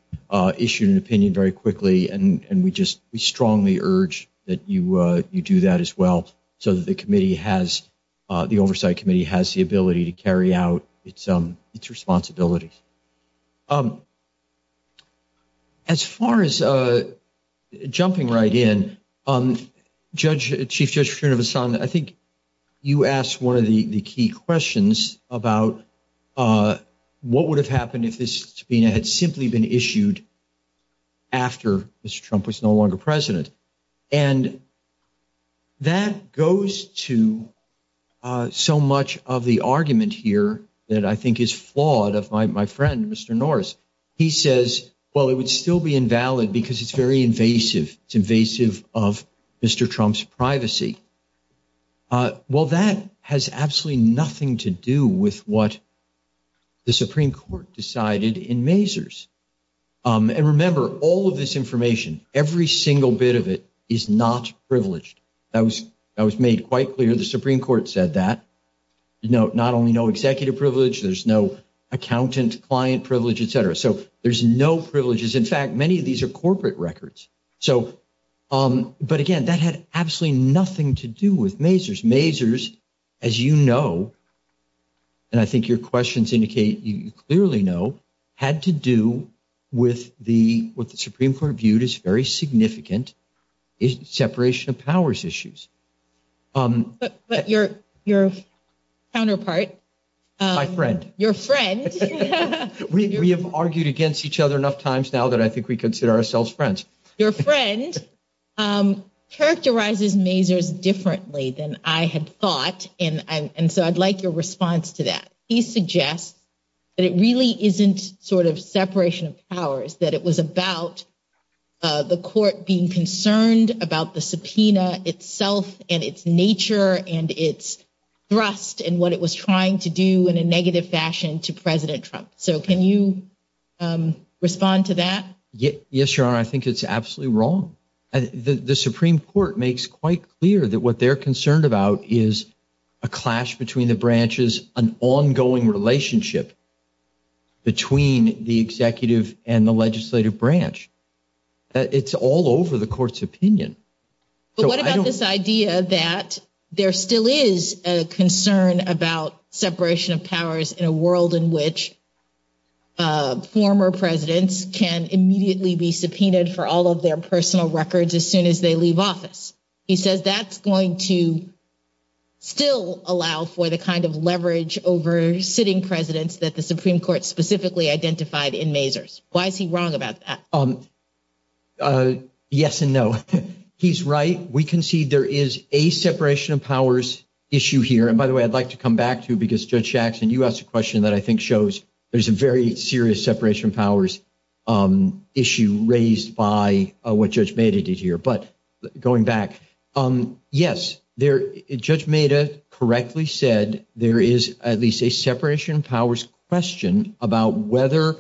issued an opinion very quickly. And we just strongly urge that you do that as well so that the committee has – the Oversight Committee has the ability to carry out its responsibility. As far as jumping right in, Chief Judge Srinivasan, I think you asked one of the key questions about what would have happened if this subpoena had simply been issued after Mr. Trump was no longer president. And that goes to so much of the argument here that I think is flawed of my friend, Mr. Norris. He says, well, it would still be invalid because it's very invasive. It's invasive of Mr. Trump's privacy. Well, that has absolutely nothing to do with what the Supreme Court decided in Mazars. And remember, all of this information, every single bit of it is not privileged. That was made quite clear. The Supreme Court said that. Not only no executive privilege, there's no accountant, client privilege, et cetera. So there's no privileges. In fact, many of these are corporate records. But again, that had absolutely nothing to do with Mazars. Mazars, as you know, and I think your questions indicate you clearly know, had to do with what the Supreme Court viewed as very significant separation of powers issues. But your counterpart. My friend. Your friend. We have argued against each other enough times now that I think we consider ourselves friends. Your friend characterizes Mazars differently than I had thought. And so I'd like your response to that. He suggests that it really isn't sort of separation of powers, that it was about the court being concerned about the subpoena itself and its nature and its thrust and what it was trying to do in a negative fashion to President Trump. So can you respond to that? Yes, Your Honor. I think it's absolutely wrong. The Supreme Court makes quite clear that what they're concerned about is a clash between the branches, an ongoing relationship between the executive and the legislative branch. But what about this idea that there still is a concern about separation of powers in a world in which former presidents can immediately be subpoenaed for all of their personal records as soon as they leave office? He says that's going to still allow for the kind of leverage over sitting presidents that the Supreme Court specifically identified in Mazars. Why is he wrong about that? Yes and no. He's right. We can see there is a separation of powers issue here. And by the way, I'd like to come back to because Judge Jackson, you asked a question that I think shows there's a very serious separation of powers issue raised by what Judge Maida did here. But going back, yes, Judge Maida correctly said there is at least a separation of powers question about whether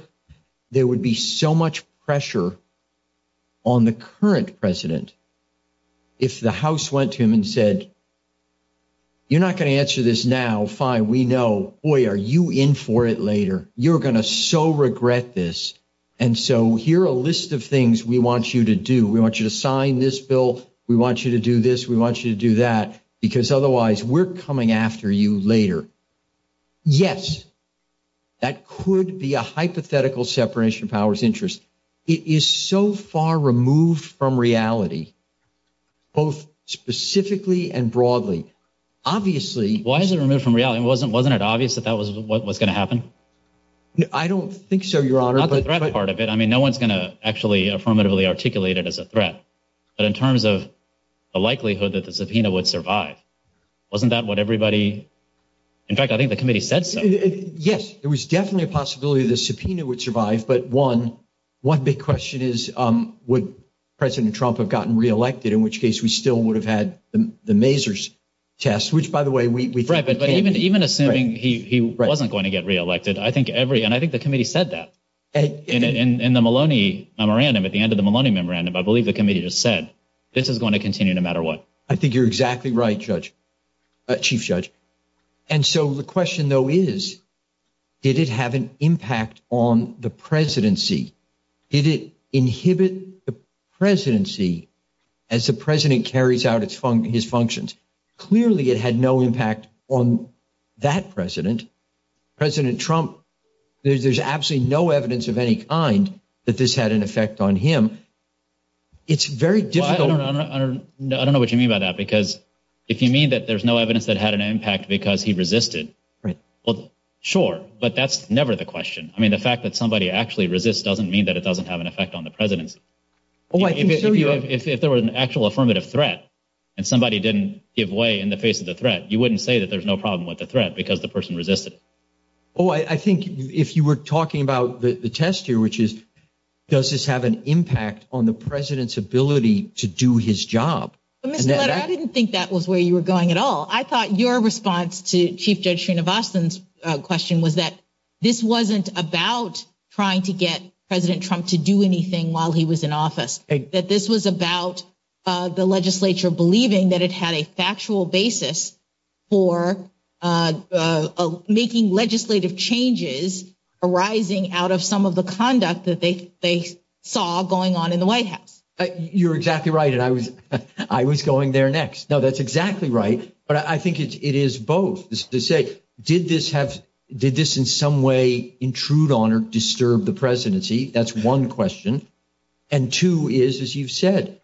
there would be so much pressure on the current president if the House went to him and said, you're not going to answer this now. Fine. We know. Boy, are you in for it later? You're going to so regret this. And so here are a list of things we want you to do. We want you to sign this bill. We want you to do this. We want you to do that. Because otherwise, we're coming after you later. Yes, that could be a hypothetical separation of powers interest. It is so far removed from reality, both specifically and broadly. Obviously… Why is it removed from reality? Wasn't it obvious that that was what was going to happen? I don't think so, Your Honor. I mean, no one's going to actually affirmatively articulate it as a threat. But in terms of the likelihood that the subpoena would survive, wasn't that what everybody… In fact, I think the committee said so. Yes, there was definitely a possibility the subpoena would survive. But one big question is would President Trump have gotten reelected, in which case we still would have had the Mazars test, which, by the way… Right, but even assuming he wasn't going to get reelected, I think every… And I think the committee said that. In the Maloney memorandum, at the end of the Maloney memorandum, I believe the committee just said, this is going to continue no matter what. I think you're exactly right, Chief Judge. And so the question, though, is did it have an impact on the presidency? Did it inhibit the presidency as the president carries out his functions? Clearly, it had no impact on that president. President Trump, there's absolutely no evidence of any kind that this had an effect on him. It's very difficult… I don't know what you mean by that, because if you mean that there's no evidence that it had an impact because he resisted, well, sure, but that's never the question. I mean, the fact that somebody actually resists doesn't mean that it doesn't have an effect on the presidency. If there were an actual affirmative threat and somebody didn't give way in the face of the threat, you wouldn't say that there's no problem with the threat because the person resisted. Oh, I think if you were talking about the test here, which is, does this have an impact on the president's ability to do his job? I didn't think that was where you were going at all. Well, I thought your response to Chief Judge Trina Boston's question was that this wasn't about trying to get President Trump to do anything while he was in office, that this was about the legislature believing that it had a factual basis for making legislative changes arising out of some of the conduct that they saw going on in the White House. You're exactly right, and I was going there next. No, that's exactly right. But I think it is both. Did this in some way intrude on or disturb the presidency? That's one question. And two is, as you've said,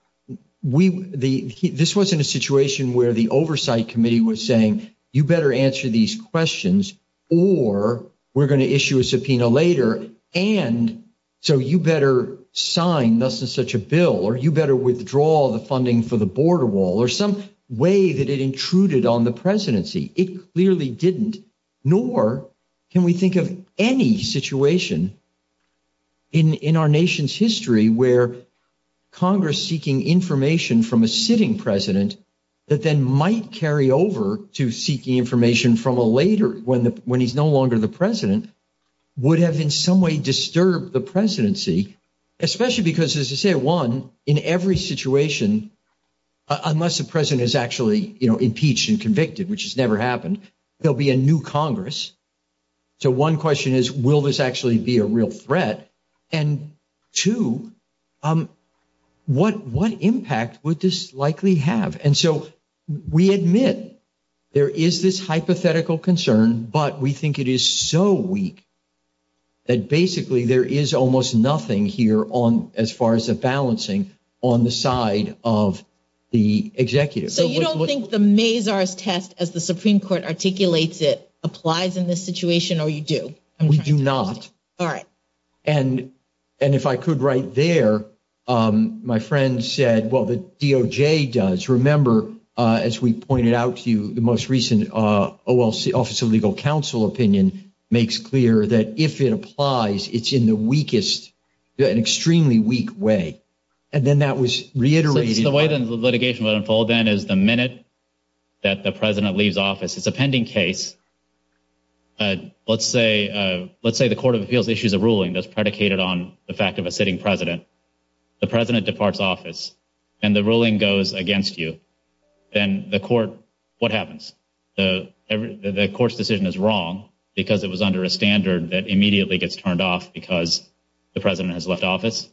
this wasn't a situation where the oversight committee was saying, you better answer these questions or we're going to issue a subpoena later. And so you better sign such a bill or you better withdraw the funding for the border wall or some way that it intruded on the presidency. It clearly didn't, nor can we think of any situation in our nation's history where Congress seeking information from a sitting president that then might carry over to seeking information from a later, when he's no longer the president, would have in some way disturbed the presidency. Especially because, as I said, one, in every situation, unless the president is actually impeached and convicted, which has never happened, there'll be a new Congress. So one question is, will this actually be a real threat? And two, what impact would this likely have? And so we admit there is this hypothetical concern, but we think it is so weak that basically there is almost nothing here on, as far as the balancing, on the side of the executives. So you don't think the Mazars test, as the Supreme Court articulates it, applies in this situation, or you do? We do not. All right. And if I could right there, my friend said, well, the DOJ does. Remember, as we pointed out to you, the most recent Office of Legal Counsel opinion makes clear that if it applies, it's in the weakest, an extremely weak way. And then that was reiterated. The way the litigation will unfold, then, is the minute that the president leaves office. It's a pending case. Let's say the court of appeals issues a ruling that's predicated on the fact of a sitting president. The president departs office, and the ruling goes against you. Then the court, what happens? The court's decision is wrong because it was under a standard that immediately gets turned off because the president has left office?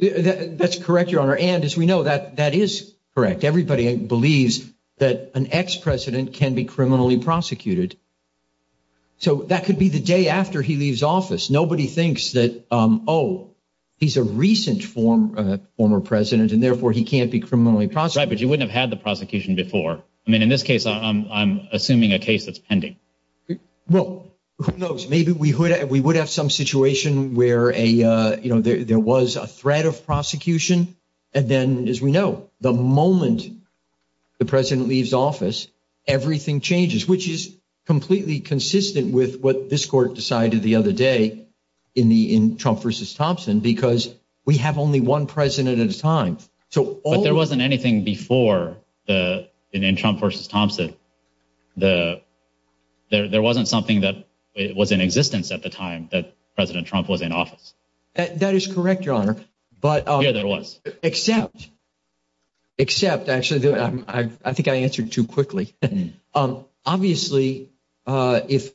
That's correct, Your Honor. And, as we know, that is correct. Everybody believes that an ex-president can be criminally prosecuted. So that could be the day after he leaves office. Nobody thinks that, oh, he's a recent former president, and therefore he can't be criminally prosecuted. Right, but you wouldn't have had the prosecution before. I mean, in this case, I'm assuming a case that's pending. Well, who knows? Maybe we would have some situation where there was a threat of prosecution. And then, as we know, the moment the president leaves office, everything changes, which is completely consistent with what this court decided the other day in Trump v. Thompson because we have only one president at a time. But there wasn't anything before in Trump v. Thompson. There wasn't something that was in existence at the time that President Trump was in office. That is correct, Your Honor. Yeah, there was. Except, actually, I think I answered too quickly. Obviously, if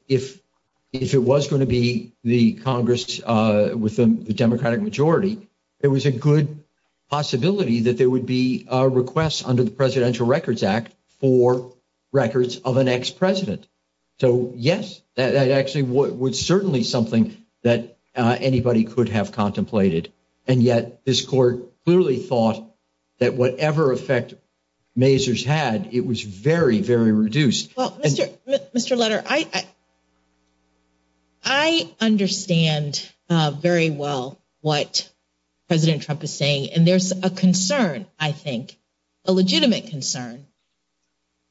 it was going to be the Congress with the Democratic majority, there was a good possibility that there would be a request under the Presidential Records Act for records of an ex-president. So, yes, that actually was certainly something that anybody could have contemplated. And yet this court clearly thought that whatever effect Mazars had, it was very, very reduced. Well, Mr. Leder, I understand very well what President Trump is saying. And there's a concern, I think, a legitimate concern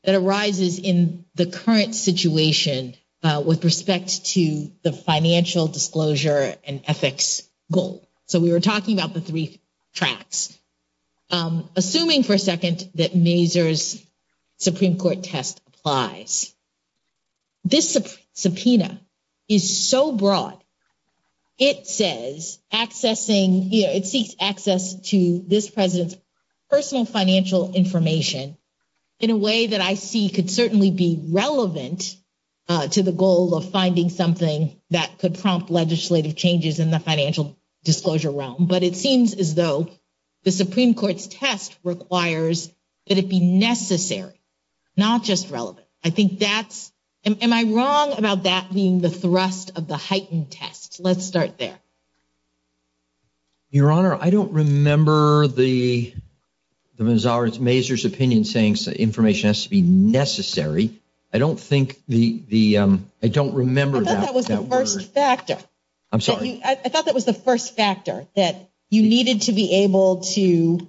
that arises in the current situation with respect to the financial disclosure and ethics goal. So we were talking about the three tracks. Assuming, for a second, that Mazars' Supreme Court testifies, this subpoena is so broad, it says, it seeks access to this president's personal financial information in a way that I see could certainly be relevant to the goal of finding something that could prompt legislative changes in the financial disclosure. But it seems as though the Supreme Court's test requires that it be necessary, not just relevant. I think that's – am I wrong about that being the thrust of the heightened test? Let's start there. Your Honor, I don't remember the Mazars' opinion saying that information has to be necessary. I don't think the – I don't remember that word. I thought that was the first factor. I'm sorry? I thought that was the first factor, that you needed to be able to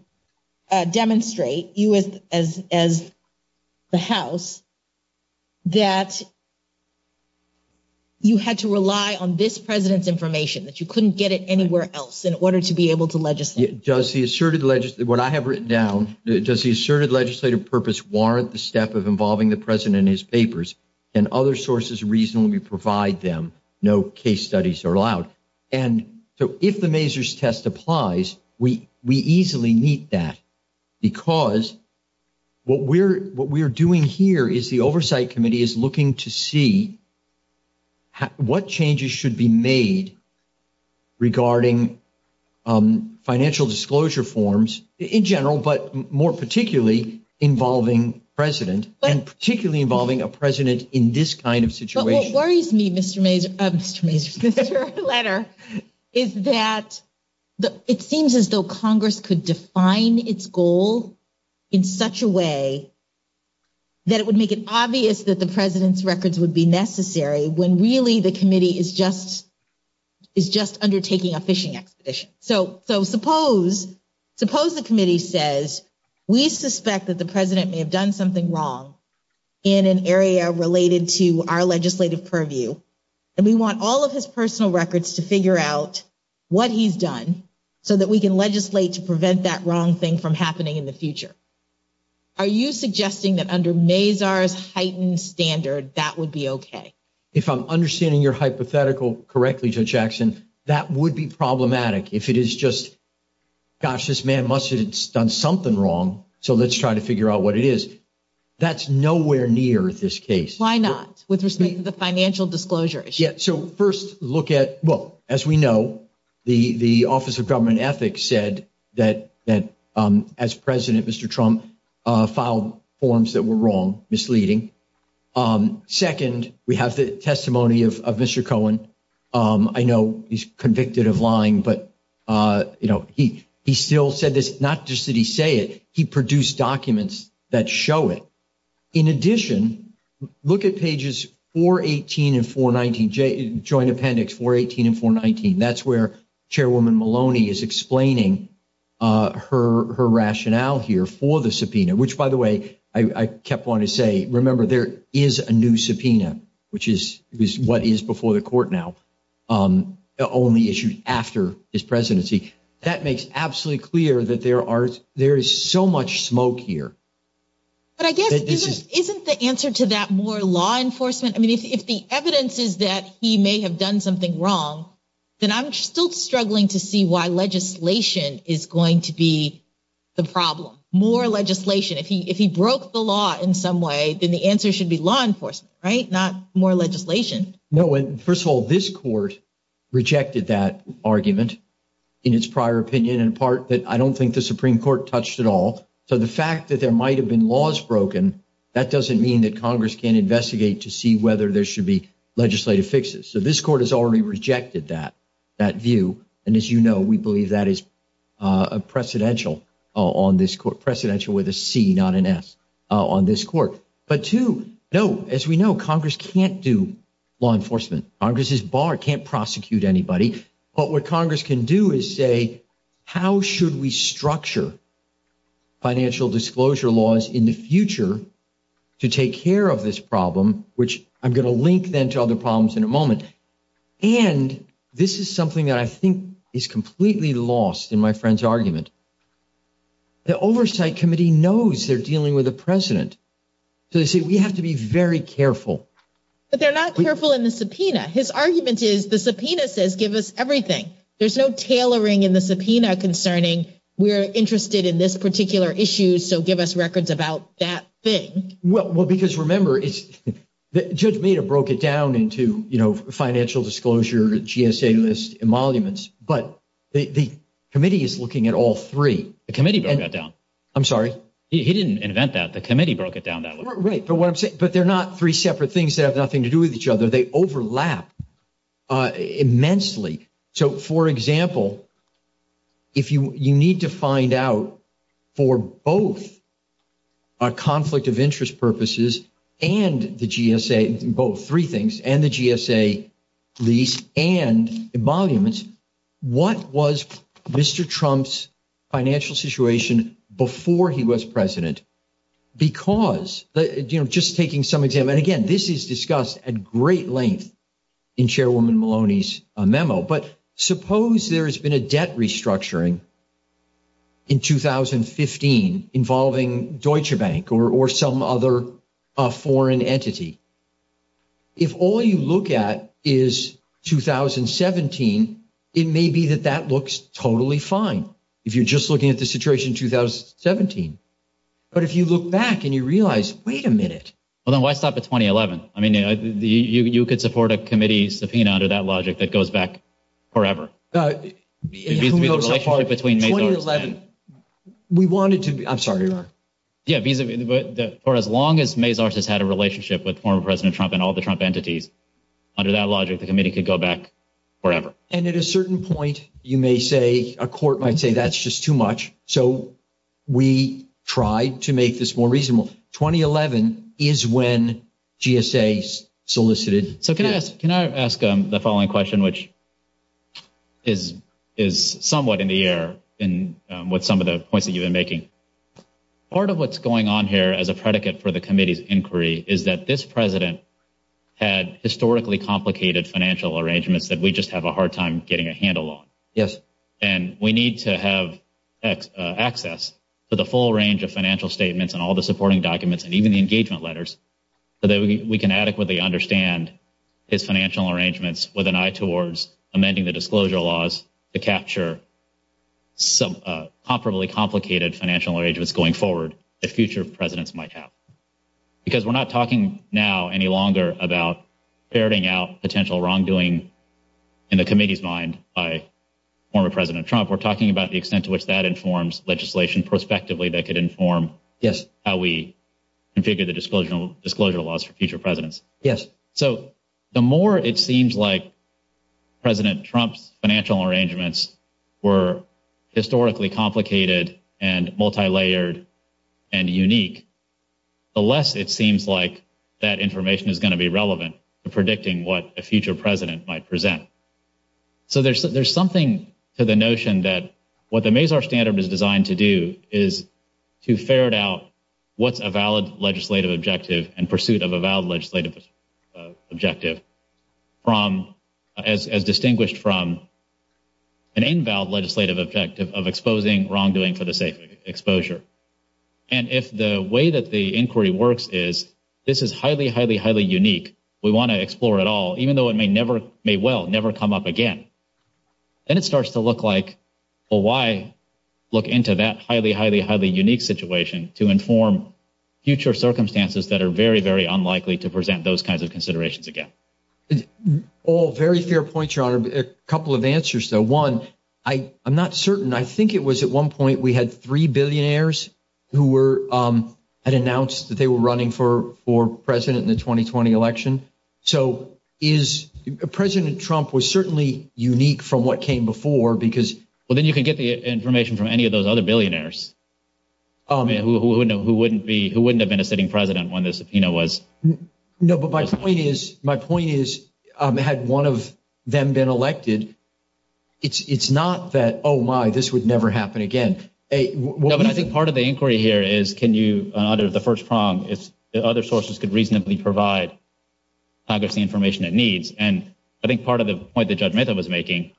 demonstrate, you as the House, that you had to rely on this president's information, that you couldn't get it anywhere else, in order to be able to legislate. Does the asserted – what I have written down, does the asserted legislative purpose warrant the step of involving the president in his papers, and other sources reasonably provide them? No case studies are allowed. And so if the Mazars' test applies, we easily meet that because what we're doing here is the Oversight Committee is looking to see what changes should be made regarding financial disclosure forms in general, but more particularly involving president, and particularly involving a president in this kind of situation. What worries me, Mr. Mazars' letter, is that it seems as though Congress could define its goal in such a way that it would make it obvious that the president's records would be necessary when really the committee is just undertaking a fishing exhibition. So suppose the committee says, we suspect that the president may have done something wrong in an area related to our legislative purview, and we want all of his personal records to figure out what he's done so that we can legislate to prevent that wrong thing from happening in the future. Are you suggesting that under Mazars' heightened standard, that would be okay? If I'm understanding your hypothetical correctly, Judge Jackson, that would be problematic if it is just, gosh, this man must have done something wrong, so let's try to figure out what it is. That's nowhere near this case. Why not, with respect to the financial disclosure issue? Yeah, so first look at, well, as we know, the Office of Government Ethics said that as president, Mr. Trump filed forms that were wrong, misleading. Second, we have the testimony of Mr. Cohen. I know he's convicted of lying, but he still said this, not just that he say it, he produced documents that show it. In addition, look at pages 418 and 419, Joint Appendix 418 and 419. That's where Chairwoman Maloney is explaining her rationale here for the subpoena, which, by the way, I kept wanting to say, remember, there is a new subpoena, which is what is before the court now, only issued after his presidency. That makes absolutely clear that there is so much smoke here. But I guess, isn't the answer to that more law enforcement? I mean, if the evidence is that he may have done something wrong, then I'm still struggling to see why legislation is going to be the problem. More legislation. If he broke the law in some way, then the answer should be law enforcement, right? Not more legislation. No, and first of all, this court rejected that argument in its prior opinion, in part, that I don't think the Supreme Court touched at all. So the fact that there might have been laws broken, that doesn't mean that Congress can't investigate to see whether there should be legislative fixes. So this court has already rejected that view, and as you know, we believe that is a precedential on this court, precedential with a C, not an S, on this court. But two, no, as we know, Congress can't do law enforcement. Congress is barred, can't prosecute anybody. But what Congress can do is say, how should we structure financial disclosure laws in the future to take care of this problem, which I'm going to link then to other problems in a moment. And this is something that I think is completely lost in my friend's argument. The Oversight Committee knows they're dealing with a president. So they say, we have to be very careful. But they're not careful in the subpoena. His argument is the subpoena says give us everything. There's no tailoring in the subpoena concerning we're interested in this particular issue, so give us records about that thing. Well, because remember, Judge Meda broke it down into financial disclosure, GSA list, and monuments. But the committee is looking at all three. The committee broke that down. I'm sorry? He didn't invent that. The committee broke it down that way. Right, but what I'm saying, but they're not three separate things that have nothing to do with each other. They overlap immensely. So, for example, if you need to find out for both conflict of interest purposes and the GSA, both three things, and the GSA list and the monuments, what was Mr. Trump's financial situation before he was president? Because, you know, just taking some examples, and again, this is discussed at great length in Chairwoman Maloney's memo. But suppose there has been a debt restructuring in 2015 involving Deutsche Bank or some other foreign entity. If all you look at is 2017, it may be that that looks totally fine. If you're just looking at the situation in 2017. But if you look back and you realize, wait a minute. Well, then why stop at 2011? I mean, you could support a committee subpoena under that logic that goes back forever. In 2011, we wanted to – I'm sorry. Yeah, for as long as Mazars has had a relationship with former President Trump and all the Trump entities, under that logic, the committee could go back forever. And at a certain point, you may say, a court might say, that's just too much. So we tried to make this more reasonable. 2011 is when GSA solicited. So can I ask the following question, which is somewhat in the air with some of the points that you've been making? Part of what's going on here as a predicate for the committee's inquiry is that this president had historically complicated financial arrangements that we just have a hard time getting a handle on. Yes. And we need to have access to the full range of financial statements and all the supporting documents and even the engagement letters so that we can adequately understand his financial arrangements with an eye towards amending the disclosure laws to capture some comparably complicated financial arrangements going forward that future presidents might have. Because we're not talking now any longer about ferreting out potential wrongdoing in the committee's mind by former President Trump. We're talking about the extent to which that informs legislation prospectively that could inform how we configure the disclosure laws for future presidents. Yes. So the more it seems like President Trump's financial arrangements were historically complicated and multilayered and unique, the less it seems like that information is going to be relevant to predicting what a future president might present. So there's something to the notion that what the Mazar Standard is designed to do is to ferret out what's a valid legislative objective and pursuit of a valid legislative objective as distinguished from an invalid legislative objective of exposing wrongdoing for the sake of exposure. And if the way that the inquiry works is this is highly, highly, highly unique, we want to explore it all, even though it may well never come up again, then it starts to look like, well, why look into that highly, highly, highly unique situation to inform future circumstances that are very, very unlikely to present those kinds of considerations again. All very fair points, Your Honor. A couple of answers, though. One, I'm not certain. I think it was at one point we had three billionaires who were – had announced that they were running for president in the 2020 election. So is – President Trump was certainly unique from what came before because – Well, then you can get the information from any of those other billionaires who wouldn't have been a sitting president when the subpoena was – No, but my point is – my point is had one of them been elected, it's not that, oh, my, this would never happen again. I think part of the inquiry here is can you, under the first prong, if other sources could reasonably provide privacy information it needs. And I think part of the point that Judge Mehta was making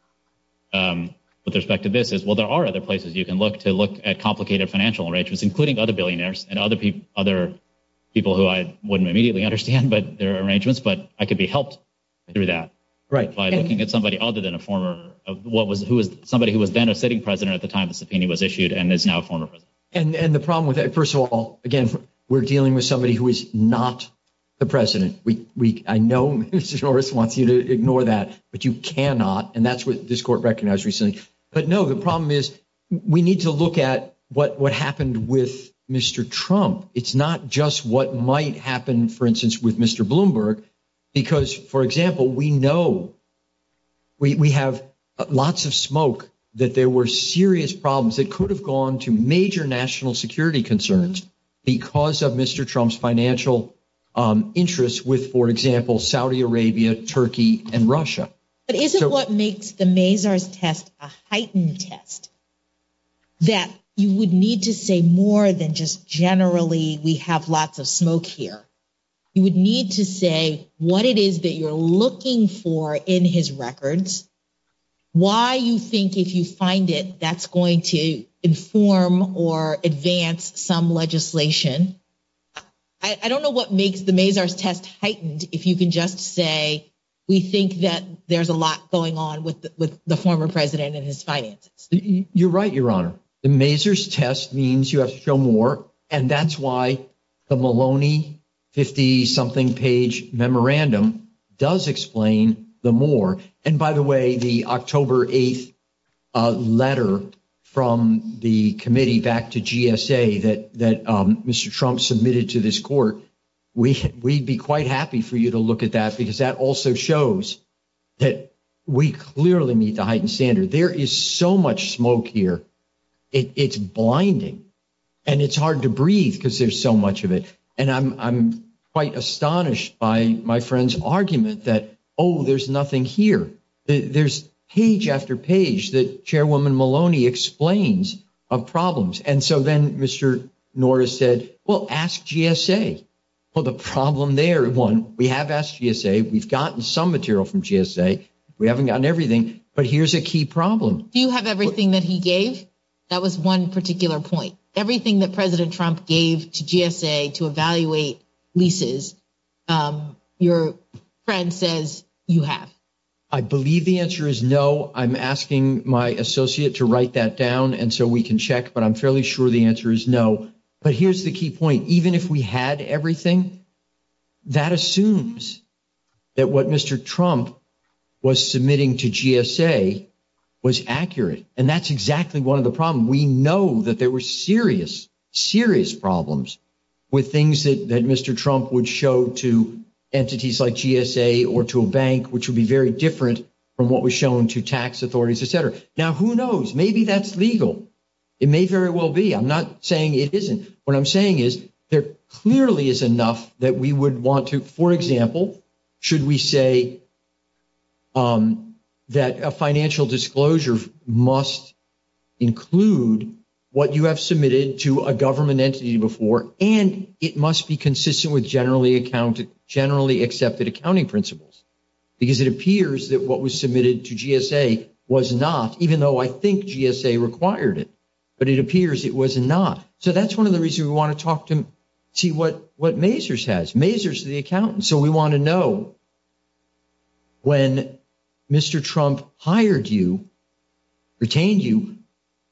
with respect to this is, well, there are other places you can look to look at complicated financial arrangements, including other billionaires and other people who I wouldn't immediately understand their arrangements, but I could be helped through that. Right. By looking at somebody other than a former – somebody who was then a sitting president at the time the subpoena was issued and is now a former president. And the problem with that – first of all, again, we're dealing with somebody who is not the president. I know Mr. Norris wants you to ignore that, but you cannot, and that's what this court recognized recently. But, no, the problem is we need to look at what happened with Mr. Trump. It's not just what might happen, for instance, with Mr. Bloomberg, because, for example, we know – we have lots of smoke that there were serious problems that could have gone to major national security concerns because of Mr. Trump's financial interests with, for example, Saudi Arabia, Turkey, and Russia. But isn't what makes the Mazars test a heightened test that you would need to say more than just generally we have lots of smoke here? You would need to say what it is that you're looking for in his records, why you think, if you find it, that's going to inform or advance some legislation. I don't know what makes the Mazars test heightened if you can just say we think that there's a lot going on with the former president and his finance. You're right, Your Honor. The Mazars test means you have to show more, and that's why the Maloney 50-something page memorandum does explain the more. And by the way, the October 8th letter from the committee back to GSA that Mr. Trump submitted to this court, we'd be quite happy for you to look at that because that also shows that we clearly need to heighten standards. There is so much smoke here, it's blinding, and it's hard to breathe because there's so much of it. And I'm quite astonished by my friend's argument that, oh, there's nothing here. There's page after page that Chairwoman Maloney explains of problems. And so then Mr. Norris said, well, ask GSA. Well, the problem there, one, we have asked GSA. We've gotten some material from GSA. We haven't gotten everything, but here's a key problem. Do you have everything that he gave? That was one particular point. Everything that President Trump gave to GSA to evaluate leases, your friend says you have. I believe the answer is no. I'm asking my associate to write that down and so we can check, but I'm fairly sure the answer is no. But here's the key point. Even if we had everything, that assumes that what Mr. Trump was submitting to GSA was accurate, and that's exactly one of the problems. We know that there were serious, serious problems with things that Mr. Trump would show to entities like GSA or to a bank, which would be very different from what was shown to tax authorities, et cetera. Now, who knows? Maybe that's legal. It may very well be. I'm not saying it isn't. What I'm saying is there clearly is enough that we would want to, for example, should we say that a financial disclosure must include what you have submitted to a government entity before, and it must be consistent with generally accepted accounting principles, because it appears that what was submitted to GSA was not, even though I think GSA required it. But it appears it was not. So that's one of the reasons we want to talk to see what Mazur's has. Mazur's the accountant, so we want to know when Mr. Trump hired you, retained you,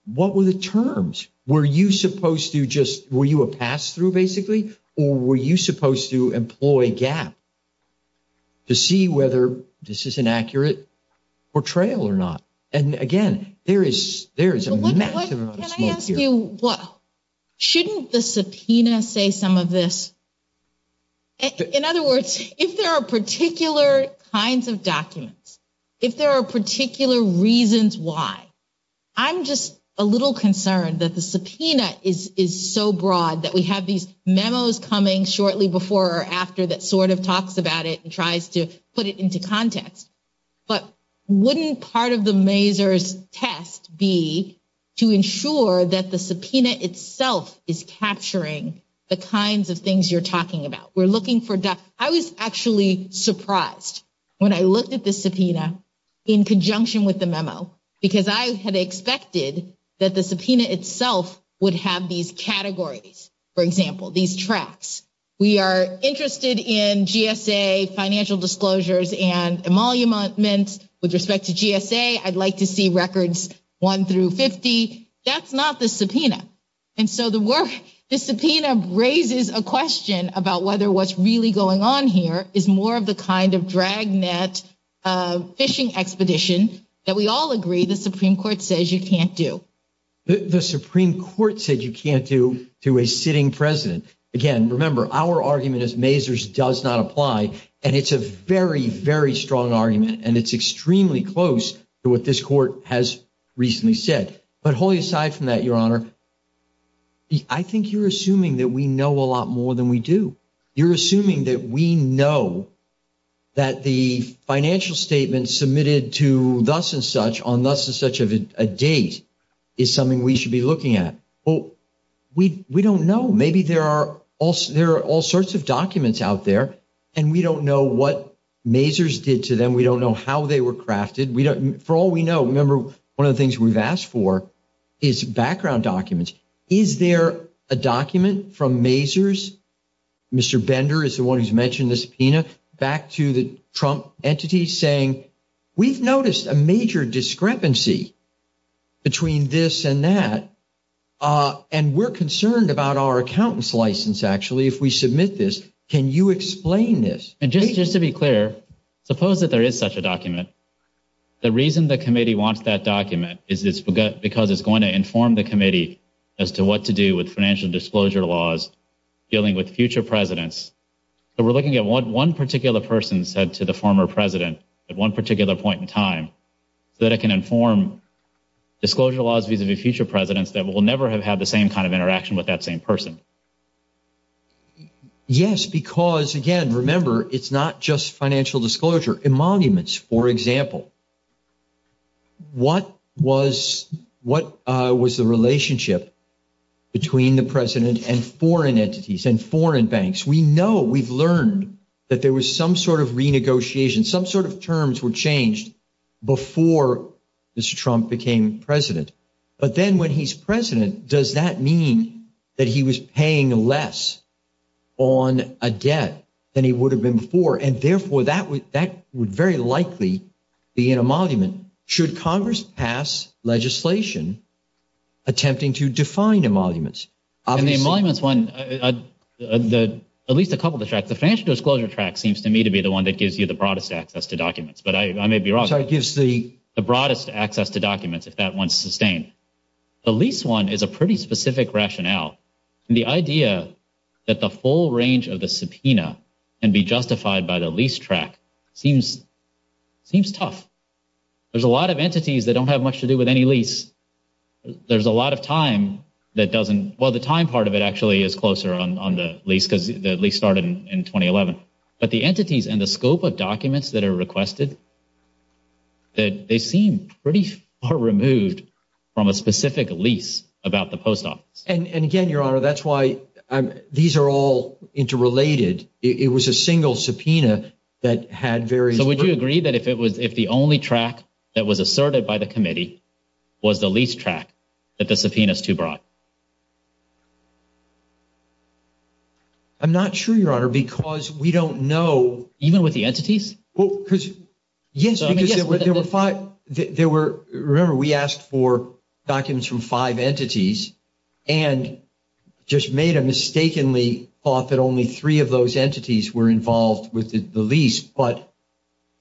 what were the terms? Were you supposed to just – were you a pass-through, basically? Or were you supposed to employ gap to see whether this is an accurate portrayal or not? And, again, there is a massive amount of smoke here. Shouldn't the subpoena say some of this? In other words, if there are particular kinds of documents, if there are particular reasons why, I'm just a little concerned that the subpoena is so broad that we have these memos coming shortly before or after that sort of talks about it and tries to put it into context. But wouldn't part of the Mazur's test be to ensure that the subpoena itself is capturing the kinds of things you're talking about? We're looking for – I was actually surprised when I looked at the subpoena in conjunction with the memo, because I had expected that the subpoena itself would have these categories, for example, these tracks. We are interested in GSA financial disclosures and emoluments with respect to GSA. I'd like to see records 1 through 50. That's not the subpoena. And so the work – the subpoena raises a question about whether what's really going on here is more of the kind of dragnet fishing expedition that we all agree the Supreme Court says you can't do. The Supreme Court said you can't do to a sitting president. Again, remember, our argument is Mazur's does not apply, and it's a very, very strong argument, and it's extremely close to what this court has recently said. But wholly aside from that, Your Honor, I think you're assuming that we know a lot more than we do. You're assuming that we know that the financial statement submitted to thus and such on thus and such a date is something we should be looking at. Well, we don't know. Maybe there are all sorts of documents out there, and we don't know what Mazur's did to them. We don't know how they were crafted. For all we know, remember, one of the things we've asked for is background documents. Is there a document from Mazur's, Mr. Bender is the one who's mentioned this subpoena, back to the Trump entity saying we've noticed a major discrepancy between this and that, and we're concerned about our accountant's license, actually, if we submit this. Can you explain this? And, James, just to be clear, suppose that there is such a document. The reason the committee wants that document is because it's going to inform the committee as to what to do with financial disclosure laws dealing with future presidents. So we're looking at one particular person said to the former president at one particular point in time that it can inform disclosure laws vis-a-vis future presidents that will never have had the same kind of interaction with that same person. Yes, because, again, remember, it's not just financial disclosure. In monuments, for example, what was the relationship between the president and foreign entities and foreign banks? We know, we've learned that there was some sort of renegotiation, some sort of terms were changed before Mr. Trump became president. But then when he's president, does that mean that he was paying less on a debt than he would have been before? And, therefore, that would very likely be in a monument. Should Congress pass legislation attempting to define the monuments? In the monuments one, at least a couple of the facts, the financial disclosure tract seems to me to be the one that gives you the broadest access to documents. But I may be wrong. It gives the broadest access to documents if that one's sustained. The lease one is a pretty specific rationale. The idea that the full range of the subpoena can be justified by the lease tract seems tough. There's a lot of entities that don't have much to do with any lease. There's a lot of time that doesn't – well, the time part of it actually is closer on the lease because the lease started in 2011. But the entities and the scope of documents that are requested, they seem pretty far removed from a specific lease about the post office. And, again, Your Honor, that's why these are all interrelated. It was a single subpoena that had very – So would you agree that if the only tract that was asserted by the committee was the lease tract, that the subpoena is too broad? I'm not sure, Your Honor, because we don't know – Even with the entities? Well, because – yes, because there were – remember, we asked for documents from five entities and just made a mistakenly thought that only three of those entities were involved with the lease. But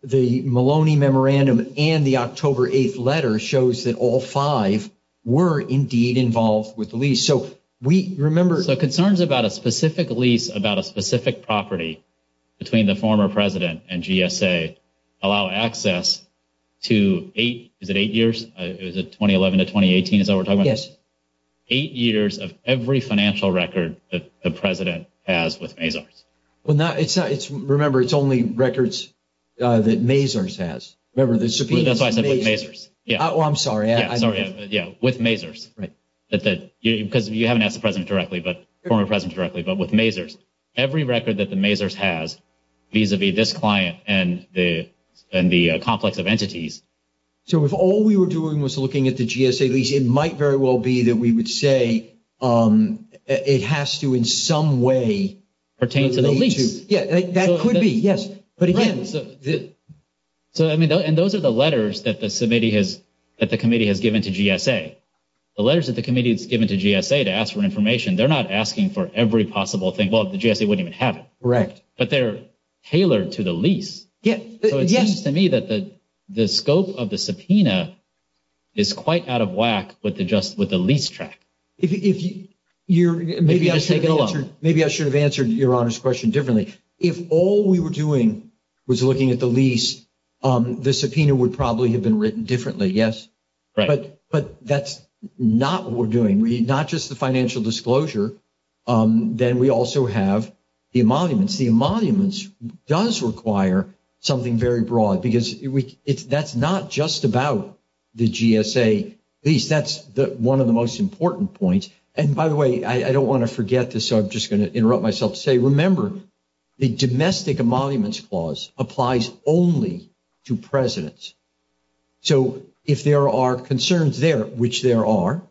the Maloney Memorandum and the October 8th letter shows that all five were indeed involved with the lease. So we – remember – So concerns about a specific lease about a specific property between the former president and GSA allow access to eight – is it eight years? Is it 2011 to 2018 is what we're talking about? Yes. Eight years of every financial record that the president has with Mazars. Well, no, it's – remember, it's only records that Mazars has. Remember, the subpoena – That's right, the Mazars. Well, I'm sorry. Yes, sorry. Yes, with Mazars. Because you haven't asked the president directly, but – former president directly, but with Mazars. Every record that the Mazars has vis-a-vis this client and the complex of entities. So if all we were doing was looking at the GSA lease, it might very well be that we would say it has to in some way pertain to the lease. Yeah, that could be, yes. So, I mean, and those are the letters that the committee has given to GSA. The letters that the committee has given to GSA to ask for information, they're not asking for every possible thing. Well, the GSA wouldn't even have it. Correct. But they're tailored to the lease. Yes. So it seems to me that the scope of the subpoena is quite out of whack with the lease track. Maybe I should have answered Your Honor's question differently. If all we were doing was looking at the lease, the subpoena would probably have been written differently, yes. But that's not what we're doing. Not just the financial disclosure, then we also have the emoluments. The emoluments does require something very broad, because that's not just about the GSA lease. That's one of the most important points. And, by the way, I don't want to forget this, so I'm just going to interrupt myself to say, remember, the domestic emoluments clause applies only to presidents. So if there are concerns there, which there are,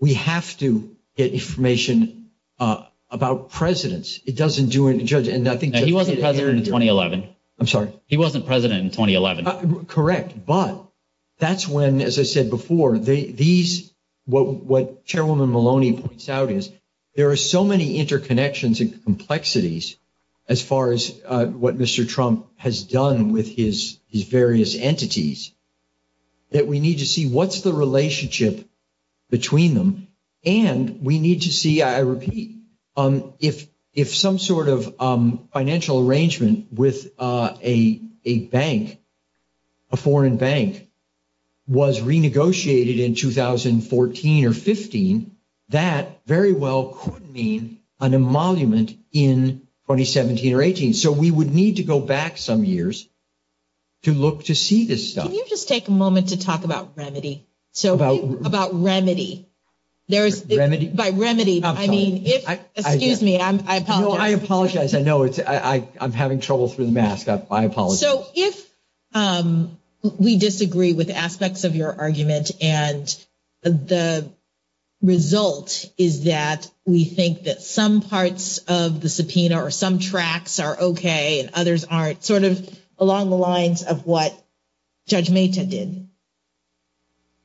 we have to get information about presidents. He wasn't president in 2011. I'm sorry? He wasn't president in 2011. Correct. But that's when, as I said before, what Chairwoman Maloney points out is there are so many interconnections and complexities, as far as what Mr. Trump has done with his various entities, that we need to see what's the relationship between them. And we need to see, I repeat, if some sort of financial arrangement with a bank, a foreign bank, was renegotiated in 2014 or 15, that very well could mean an emolument in 2017 or 18. So we would need to go back some years to look to see this stuff. Can you just take a moment to talk about remedy? About what? About remedy. Remedy? By remedy, I mean, excuse me, I apologize. No, I apologize. I know. I'm having trouble with the mask. I apologize. So if we disagree with aspects of your argument and the result is that we think that some parts of the subpoena or some tracks are okay and others aren't, sort of along the lines of what Judge Mehta did,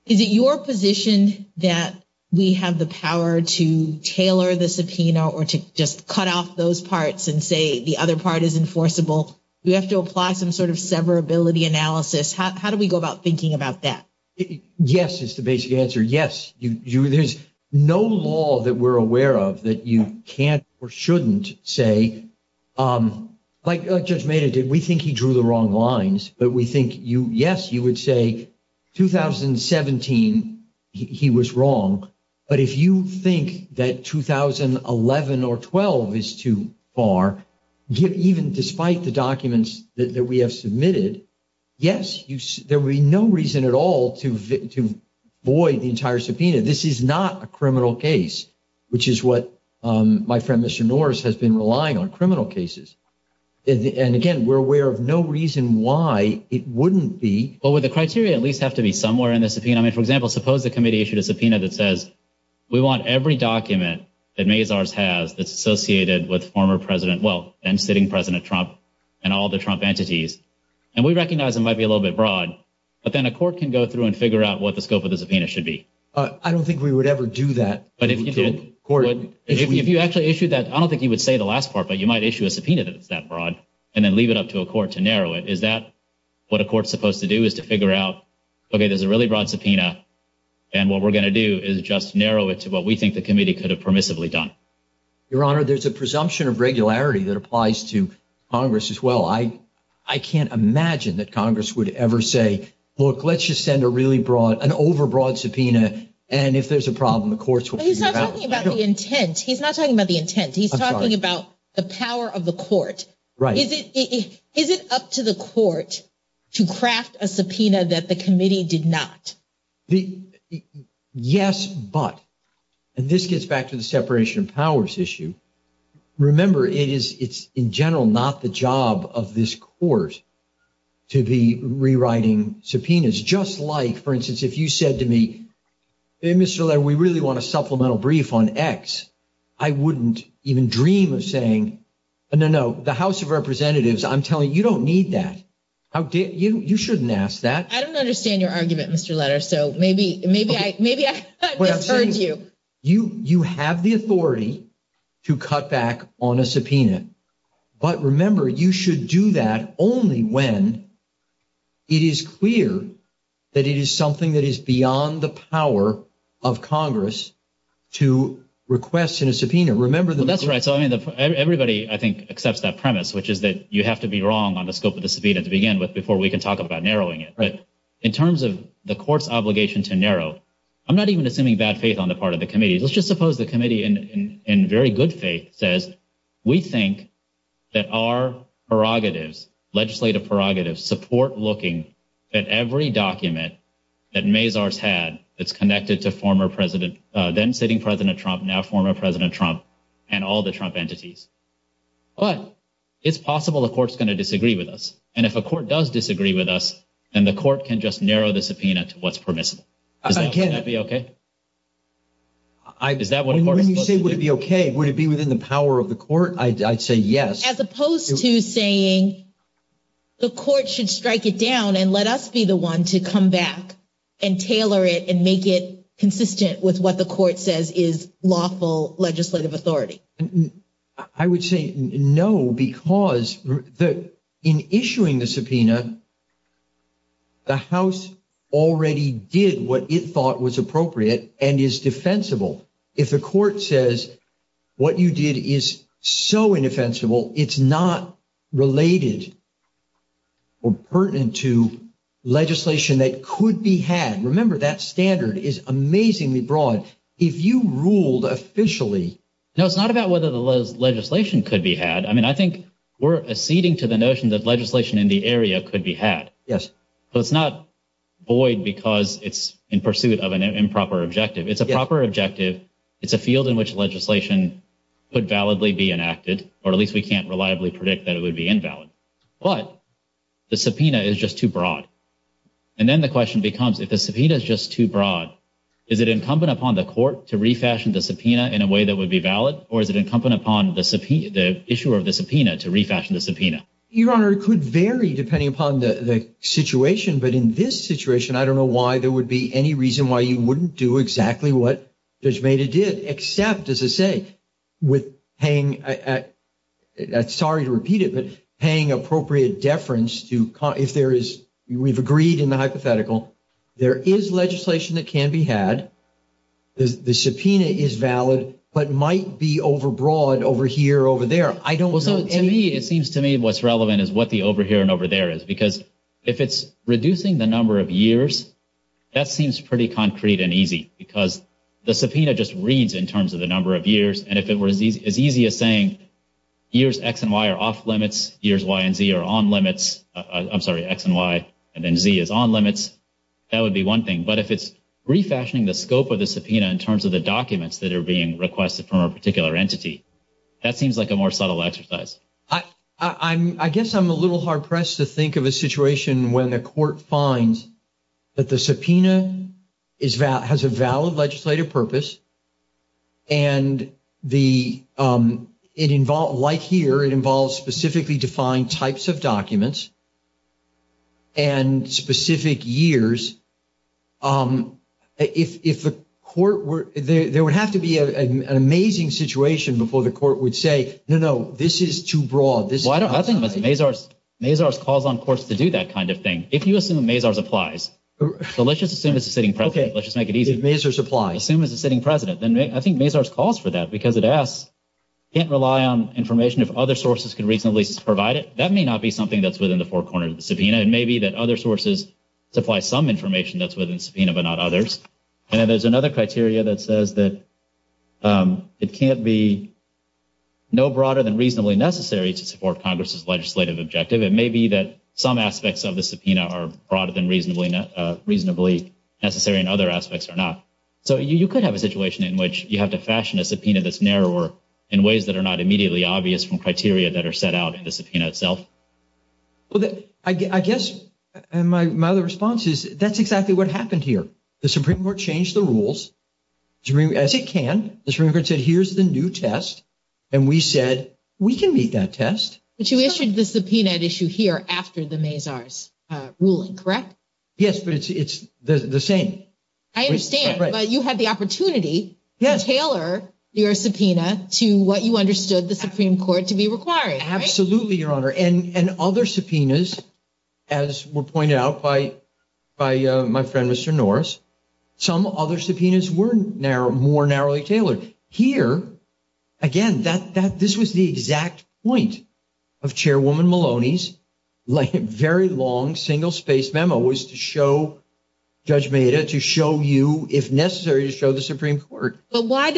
is it your position that we have the power to tailor the subpoena or to just cut off those parts and say the other part is enforceable? We have to apply some sort of severability analysis. How do we go about thinking about that? Yes, is the basic answer. Yes. There's no law that we're aware of that you can't or shouldn't say, like Judge Mehta did. We think he drew the wrong lines. But we think, yes, you would say 2017 he was wrong. But if you think that 2011 or 12 is too far, even despite the documents that we have submitted, yes, there would be no reason at all to void the entire subpoena. This is not a criminal case, which is what my friend Mr. Norris has been relying on, criminal cases. And, again, we're aware of no reason why it wouldn't be. Well, would the criteria at least have to be somewhere in the subpoena? I mean, for example, suppose the committee issued a subpoena that says we want every document that Mazars has that's associated with former President, well, then sitting President Trump and all the Trump entities. And we recognize it might be a little bit broad, but then a court can go through and figure out what the scope of the subpoena should be. I don't think we would ever do that. If you actually issued that, I don't think you would say the last part, but you might issue a subpoena that's that broad and then leave it up to a court to narrow it. Is that what a court's supposed to do is to figure out, okay, there's a really broad subpoena, and what we're going to do is just narrow it to what we think the committee could have permissively done? Your Honor, there's a presumption of regularity that applies to Congress as well. I can't imagine that Congress would ever say, look, let's just send a really broad, an overbroad subpoena, and if there's a problem, the courts will figure it out. He's not talking about the intent. He's not talking about the intent. He's talking about the power of the court. Right. Is it up to the court to craft a subpoena that the committee did not? Yes, but, and this gets back to the separation of powers issue. Remember, it's in general not the job of this court to be rewriting subpoenas. Just like, for instance, if you said to me, hey, Mr. Levin, we really want a supplemental brief on X, I wouldn't even dream of saying, no, no, the House of Representatives, I'm telling you, you don't need that. You shouldn't ask that. I don't understand your argument, Mr. Letters, so maybe I heard you. You have the authority to cut back on a subpoena, but remember, you should do that only when it is clear that it is something that is beyond the power of Congress to request a subpoena. That's right. So everybody, I think, accepts that premise, which is that you have to be wrong on the scope of the subpoena to begin with before we can talk about narrowing it. But in terms of the court's obligation to narrow, I'm not even assuming bad faith on the part of the committee. Let's just suppose the committee, in very good faith, says we think that our prerogatives, legislative prerogatives, support looking at every document that Mazars had that's connected to former president – then sitting president Trump, now former president Trump and all the Trump entities. But it's possible the court's going to disagree with us, and if a court does disagree with us, then the court can just narrow the subpoena to what's permissible. Would that be okay? When you say would it be okay, would it be within the power of the court? I'd say yes. As opposed to saying the court should strike it down and let us be the one to come back and tailor it and make it consistent with what the court says is lawful legislative authority. I would say no, because in issuing the subpoena, the House already did what it thought was appropriate and is defensible. If the court says what you did is so indefensible, it's not related or pertinent to legislation that could be had. Remember, that standard is amazingly broad. If you ruled officially – No, it's not about whether the legislation could be had. I mean, I think we're acceding to the notion that legislation in the area could be had. Yes. But it's not void because it's in pursuit of an improper objective. It's a proper objective. It's a field in which legislation could validly be enacted, or at least we can't reliably predict that it would be invalid. But the subpoena is just too broad. And then the question becomes, if the subpoena is just too broad, is it incumbent upon the court to refashion the subpoena in a way that would be valid, or is it incumbent upon the issuer of the subpoena to refashion the subpoena? Your Honor, it could vary depending upon the situation. But in this situation, I don't know why there would be any reason why you wouldn't do exactly what Judge Maida did, except, as I say, with paying – sorry to repeat it, but paying appropriate deference to – if there is – we've agreed in the hypothetical, there is legislation that can be had. The subpoena is valid, but might be overbroad over here or over there. I don't know. In me, it seems to me what's relevant is what the over here and over there is because if it's reducing the number of years, that seems pretty concrete and easy because the subpoena just reads in terms of the number of years. And if it were as easy as saying years X and Y are off limits, years Y and Z are on limits – I'm sorry, X and Y and then Z is on limits, that would be one thing. But if it's refashioning the scope of the subpoena in terms of the documents that are being requested from a particular entity, that seems like a more subtle exercise. I guess I'm a little hard-pressed to think of a situation where the court finds that the subpoena is – has a valid legislative purpose and the – it – like here, it involves specifically defined types of documents and specific years. If the court were – there would have to be an amazing situation before the court would say, no, no, this is too broad. Well, I don't – I think Mazars calls on courts to do that kind of thing. If you assume Mazars applies. So let's just assume it's a sitting president. Let's just make it easy. Okay, if Mazars applies. Assume it's a sitting president. I think Mazars calls for that because it asks – can't rely on information if other sources can reasonably provide it. That may not be something that's within the four corners of the subpoena. It may be that other sources supply some information that's within the subpoena but not others. And then there's another criteria that says that it can't be no broader than reasonably necessary to support Congress's legislative objective. It may be that some aspects of the subpoena are broader than reasonably necessary and other aspects are not. So you could have a situation in which you have to fashion a subpoena that's narrower in ways that are not immediately obvious from criteria that are set out in the subpoena itself. Well, I guess my other response is that's exactly what happened here. The Supreme Court changed the rules as it can. The Supreme Court said here's the new test, and we said we can make that test. But you issued the subpoena at issue here after the Mazars ruling, correct? Yes, but it's the same. I understand, but you had the opportunity to tailor your subpoena to what you understood the Supreme Court to be requiring, right? Absolutely, Your Honor. And other subpoenas, as was pointed out by my friend Mr. Norris, some other subpoenas were more narrowly tailored. Here, again, this was the exact point of Chairwoman Maloney's very long single-space memo was to show Judge Meda to show you, if necessary, to show the Supreme Court. But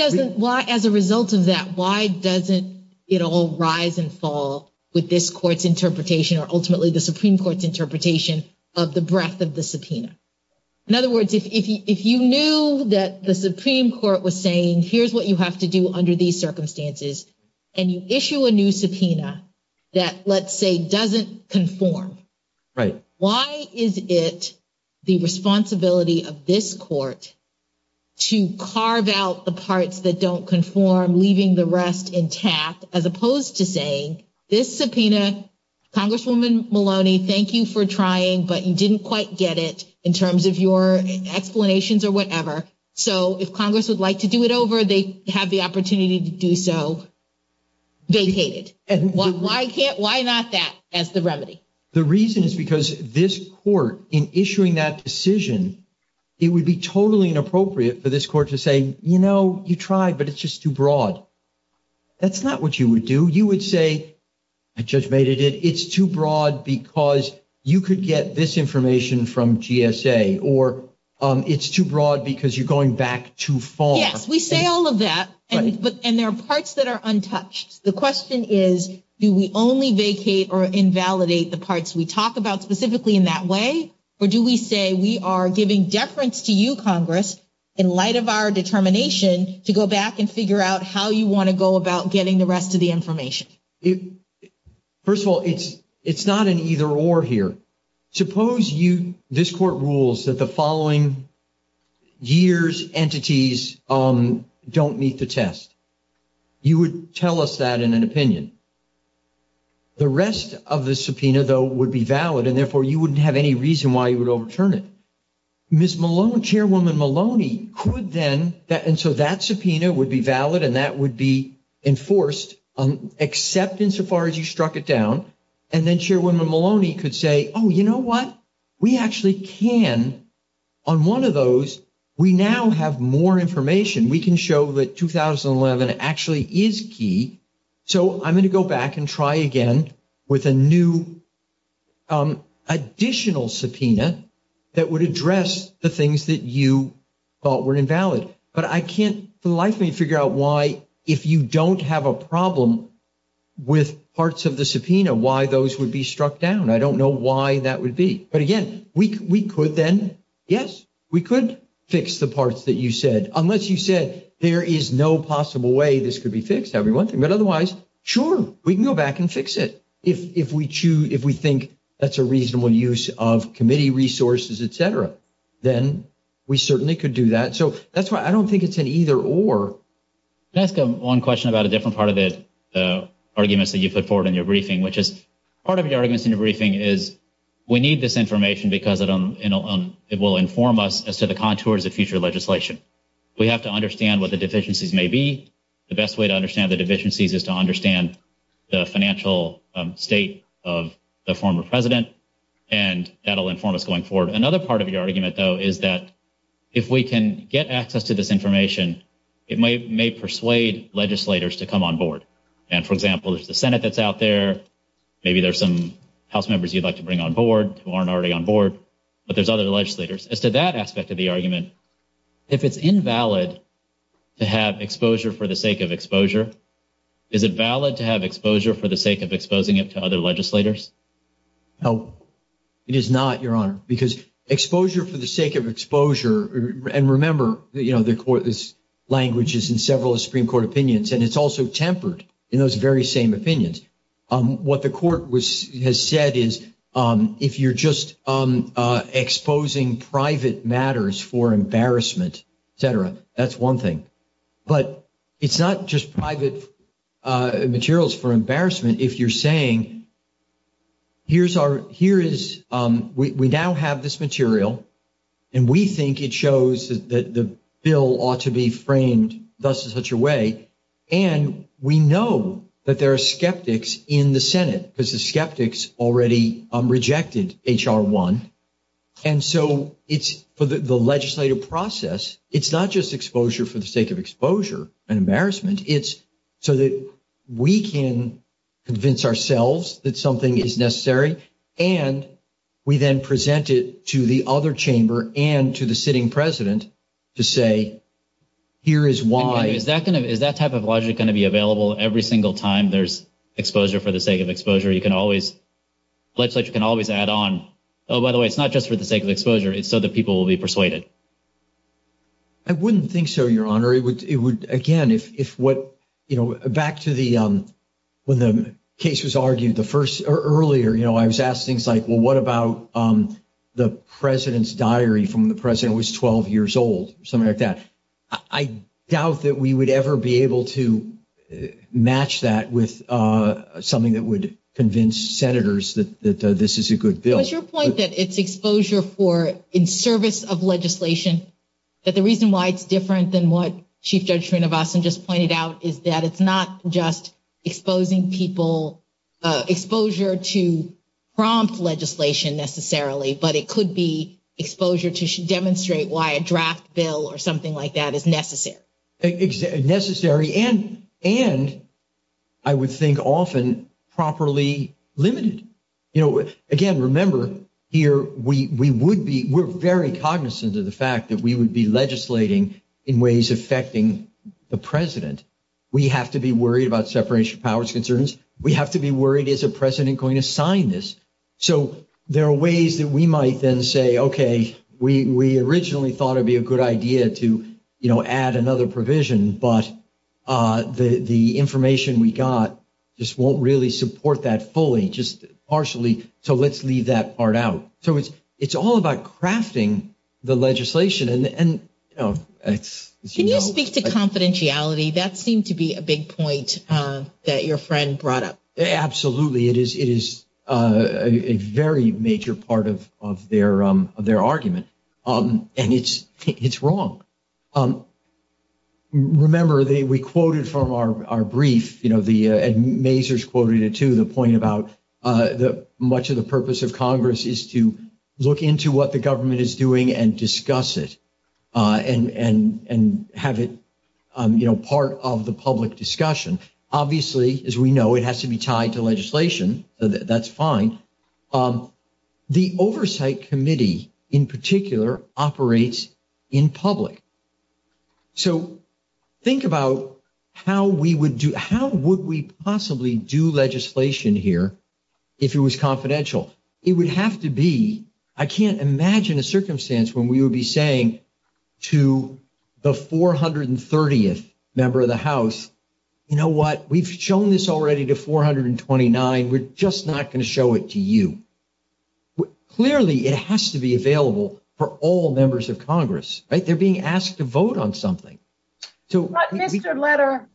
as a result of that, why doesn't it all rise and fall with this Court's interpretation or ultimately the Supreme Court's interpretation of the breadth of the subpoena? In other words, if you knew that the Supreme Court was saying here's what you have to do under these circumstances, and you issue a new subpoena that, let's say, doesn't conform. Right. Why is it the responsibility of this Court to carve out the parts that don't conform, leaving the rest intact, as opposed to saying, this subpoena, Congresswoman Maloney, thank you for trying, but you didn't quite get it in terms of your explanations or whatever. So if Congress would like to do it over, they have the opportunity to do so. They hate it. Why not that as the remedy? The reason is because this Court, in issuing that decision, it would be totally inappropriate for this Court to say, you know, you tried, but it's just too broad. That's not what you would do. You would say, Judge Meda, it's too broad because you could get this information from GSA, or it's too broad because you're going back too far. Yes, we say all of that, and there are parts that are untouched. The question is, do we only vacate or invalidate the parts we talk about specifically in that way? Or do we say, we are giving deference to you, Congress, in light of our determination, to go back and figure out how you want to go about getting the rest of the information? First of all, it's not an either-or here. Suppose you, this Court rules that the following years' entities don't meet the test. You would tell us that in an opinion. The rest of the subpoena, though, would be valid, and therefore you wouldn't have any reason why you would overturn it. Ms. Maloney, Chairwoman Maloney, could then, and so that subpoena would be valid, and that would be enforced, except insofar as you struck it down. And then Chairwoman Maloney could say, oh, you know what? We actually can, on one of those, we now have more information. We can show that 2011 actually is key. So I'm going to go back and try again with a new additional subpoena that would address the things that you thought were invalid. But I can't for the life of me figure out why, if you don't have a problem with parts of the subpoena, why those would be struck down. I don't know why that would be. But again, we could then, yes, we could fix the parts that you said, unless you said there is no possible way this could be fixed every once in a while. But otherwise, sure, we can go back and fix it. If we think that's a reasonable use of committee resources, etc., then we certainly could do that. So that's why I don't think it's an either-or. Can I ask one question about a different part of the arguments that you put forward in your briefing, which is part of the arguments in the briefing is we need this information because it will inform us as to the contours of future legislation. We have to understand what the deficiencies may be. The best way to understand the deficiencies is to understand the financial state of the former president, and that will inform us going forward. Another part of the argument, though, is that if we can get access to this information, it may persuade legislators to come on board. And, for example, it's the Senate that's out there. Maybe there's some House members you'd like to bring on board who aren't already on board, but there's other legislators. As to that aspect of the argument, if it's invalid to have exposure for the sake of exposure, is it valid to have exposure for the sake of exposing it to other legislators? No, it is not, Your Honor, because exposure for the sake of exposure, and remember, you know, the language is in several Supreme Court opinions, and it's also tempered in those very same opinions. What the Court has said is if you're just exposing private matters for embarrassment, et cetera, that's one thing. But it's not just private materials for embarrassment if you're saying, we now have this material, and we think it shows that the bill ought to be framed in such a way, and we know that there are skeptics in the Senate, because the skeptics already rejected H.R. 1. And so for the legislative process, it's not just exposure for the sake of exposure and embarrassment. It's so that we can convince ourselves that something is necessary, and we then present it to the other chamber and to the sitting president to say, here is why. So is that type of logic going to be available every single time there's exposure for the sake of exposure? You can always, legislatures can always add on, oh, by the way, it's not just for the sake of exposure. It's so that people will be persuaded. I wouldn't think so, Your Honor. It would, again, if what, you know, back to the, when the case was argued earlier, you know, I was asked things like, well, what about the president's diary from when the president was 12 years old, something like that. I doubt that we would ever be able to match that with something that would convince senators that this is a good bill. But your point that it's exposure for, in service of legislation, that the reason why it's different than what Chief Judge Trinovastan just pointed out is that it's not just exposing people, exposure to prompt legislation necessarily, but it could be exposure to demonstrate why a draft bill or something like that is necessary. And I would think often properly limited. You know, again, remember here, we would be, we're very cognizant of the fact that we would be legislating in ways affecting the president. We have to be worried about separation of powers concerns. We have to be worried, is the president going to sign this? So there are ways that we might then say, okay, we originally thought it'd be a good idea to, you know, add another provision, but the information we got just won't really support that fully, just partially. So let's leave that part out. So it's all about crafting the legislation. Can you speak to confidentiality? That seemed to be a big point that your friend brought up. Absolutely. It is a very major part of their argument. And it's wrong. Remember, we quoted from our brief, you know, and Mazur's quoted it too, the point about much of the purpose of Congress is to look into what the government is doing and discuss it and have it, you know, part of the public discussion. Obviously, as we know, it has to be tied to legislation. That's fine. The Oversight Committee, in particular, operates in public. So think about how we would do, how would we possibly do legislation here if it was confidential? It would have to be. I can't imagine a circumstance when we would be saying to the 430th member of the House, you know what, we've shown this already to 429, we're just not going to show it to you. Clearly, it has to be available for all members of Congress, right? They're being asked to vote on something. Mr. Letter,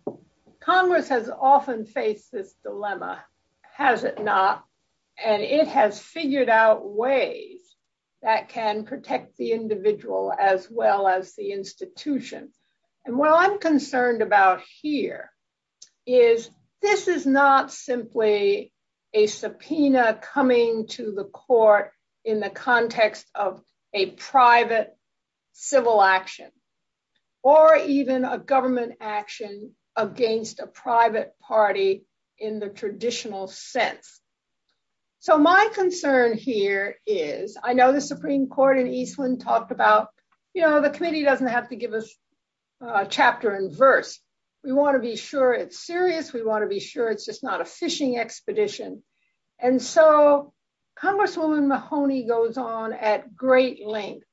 Congress has often faced this dilemma, has it not? And it has figured out ways that can protect the individual as well as the institution. And what I'm concerned about here is this is not simply a subpoena coming to the court in the context of a private civil action or even a government action against a private party in the traditional sense. So my concern here is I know the Supreme Court in Eastman talked about, you know, the committee doesn't have to give us a chapter and verse. We want to be sure it's serious. We want to be sure it's just not a fishing expedition. And so Congresswoman Mahoney goes on at great length.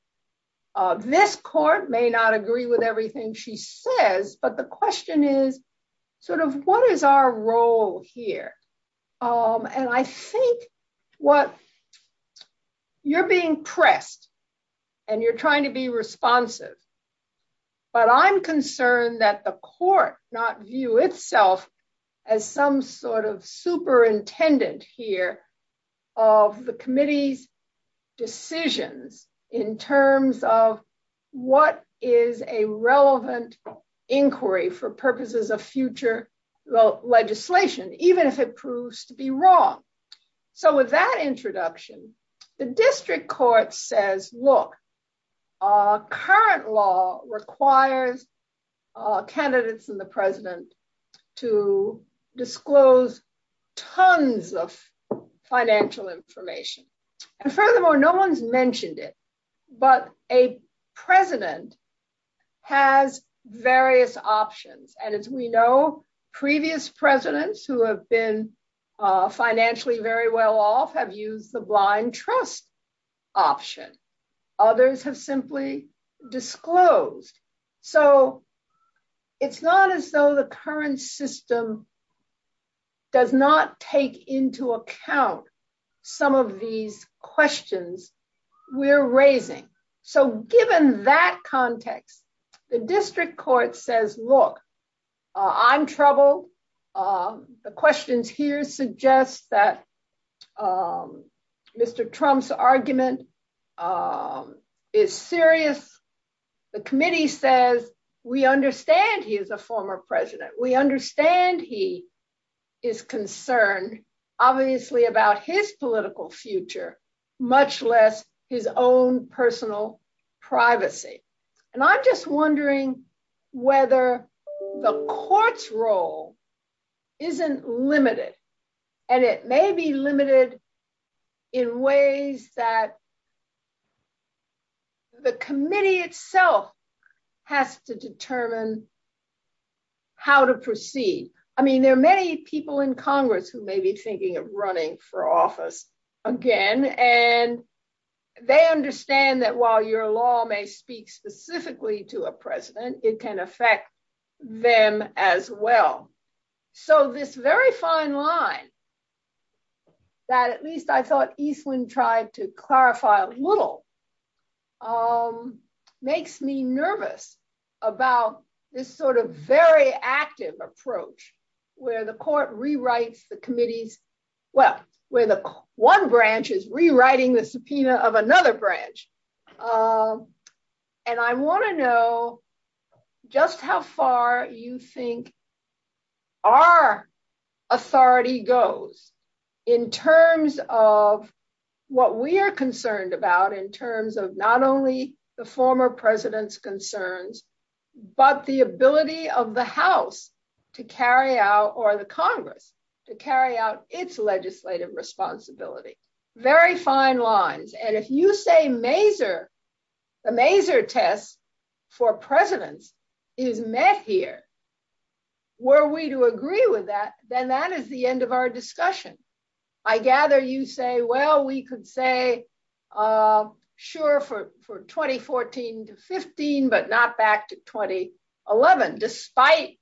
This court may not agree with everything she says, but the question is sort of what is our role here? And I think what you're being pressed and you're trying to be responsive, but I'm concerned that the court not view itself as some sort of superintendent here of the committee's decision in terms of what is a relevant inquiry for purposes of future legislation. Even if it proves to be wrong. So with that introduction, the district court says, look, current law requires candidates and the president to disclose tons of financial information. And furthermore, no one's mentioned it, but a president has various options. And as we know, previous presidents who have been financially very well off have used the blind trust option. Others have simply disclosed. So it's not as though the current system does not take into account some of these questions we're raising. So given that context, the district court says, look, I'm trouble. The questions here suggest that Mr. Trump's argument is serious. The committee says, we understand he is a former president. We understand he is concerned, obviously, about his political future, much less his own personal privacy. And I'm just wondering whether the court's role isn't limited and it may be limited in ways that the committee itself has to determine how to proceed. I mean, there are many people in Congress who may be thinking of running for office again, and they understand that while your law may speak specifically to a president, it can affect them as well. So this very fine line that at least I thought Eastland tried to clarify a little makes me nervous about this sort of very active approach where the court rewrites the committees, well, where the one branch is rewriting the subpoena of another branch. And I want to know just how far you think our authority goes in terms of what we are concerned about in terms of not only the former president's concerns, but the ability of the House to carry out or the Congress to carry out its legislative responsibility. Very fine lines. And if you say Maser, the Maser test for presidents is met here, were we to agree with that, then that is the end of our discussion. I gather you say, well, we could say, sure, for 2014 to 15, but not back to 2011, despite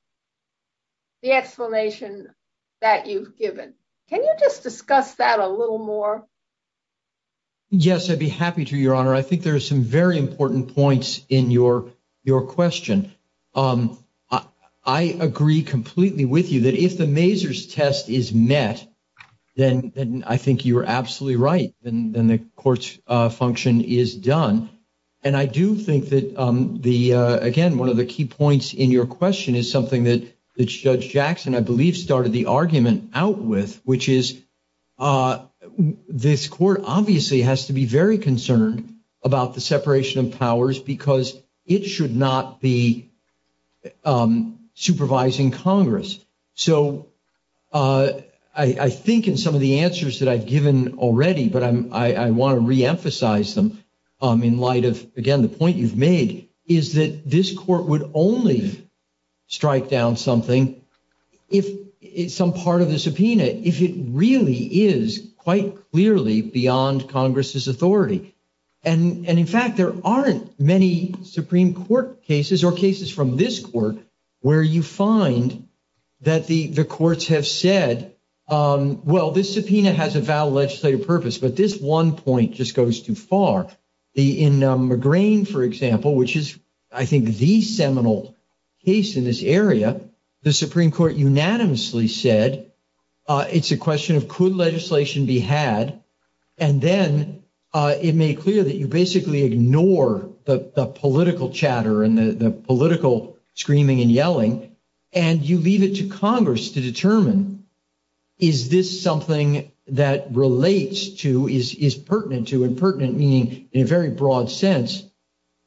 the explanation that you've given. Can you just discuss that a little more? Yes, I'd be happy to, Your Honor. I think there are some very important points in your question. I agree completely with you that if the Maser's test is met, then I think you're absolutely right. And the court's function is done. And I do think that, again, one of the key points in your question is something that Judge Jackson, I believe, started the argument out with, which is this court obviously has to be very concerned about the separation of powers because it should not be supervising Congress. So I think in some of the answers that I've given already, but I want to reemphasize them in light of, again, the point you've made is that this court would only strike down something if some part of the subpoena, if it really is quite clearly beyond Congress's authority. And, in fact, there aren't many Supreme Court cases or cases from this court where you find that the courts have said, well, this subpoena has a valid legislative purpose, but this one point just goes too far. In McGrane, for example, which is, I think, the seminal case in this area, the Supreme Court unanimously said it's a question of could legislation be had, and then it made clear that you basically ignore the political chatter and the political screaming and yelling, and you leave it to Congress to determine is this something that relates to, is pertinent to, and pertinent meaning, in a very broad sense,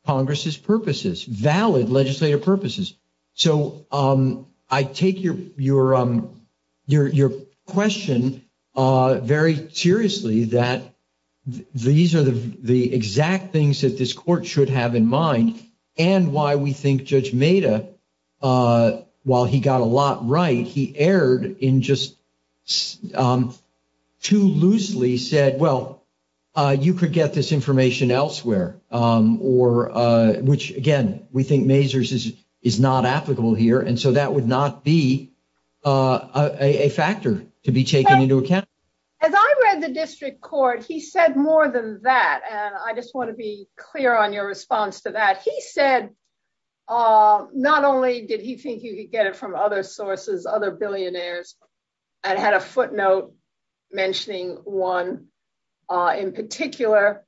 Congress's purposes, valid legislative purposes. So I take your question very seriously, that these are the exact things that this court should have in mind, and why we think Judge Maida, while he got a lot right, he erred in just too loosely said, well, you could get this information elsewhere. Which, again, we think Mazur's is not applicable here, and so that would not be a factor to be taken into account. As I read the district court, he said more than that, and I just want to be clear on your response to that. He said not only did he think you could get it from other sources, other billionaires, and had a footnote mentioning one in particular,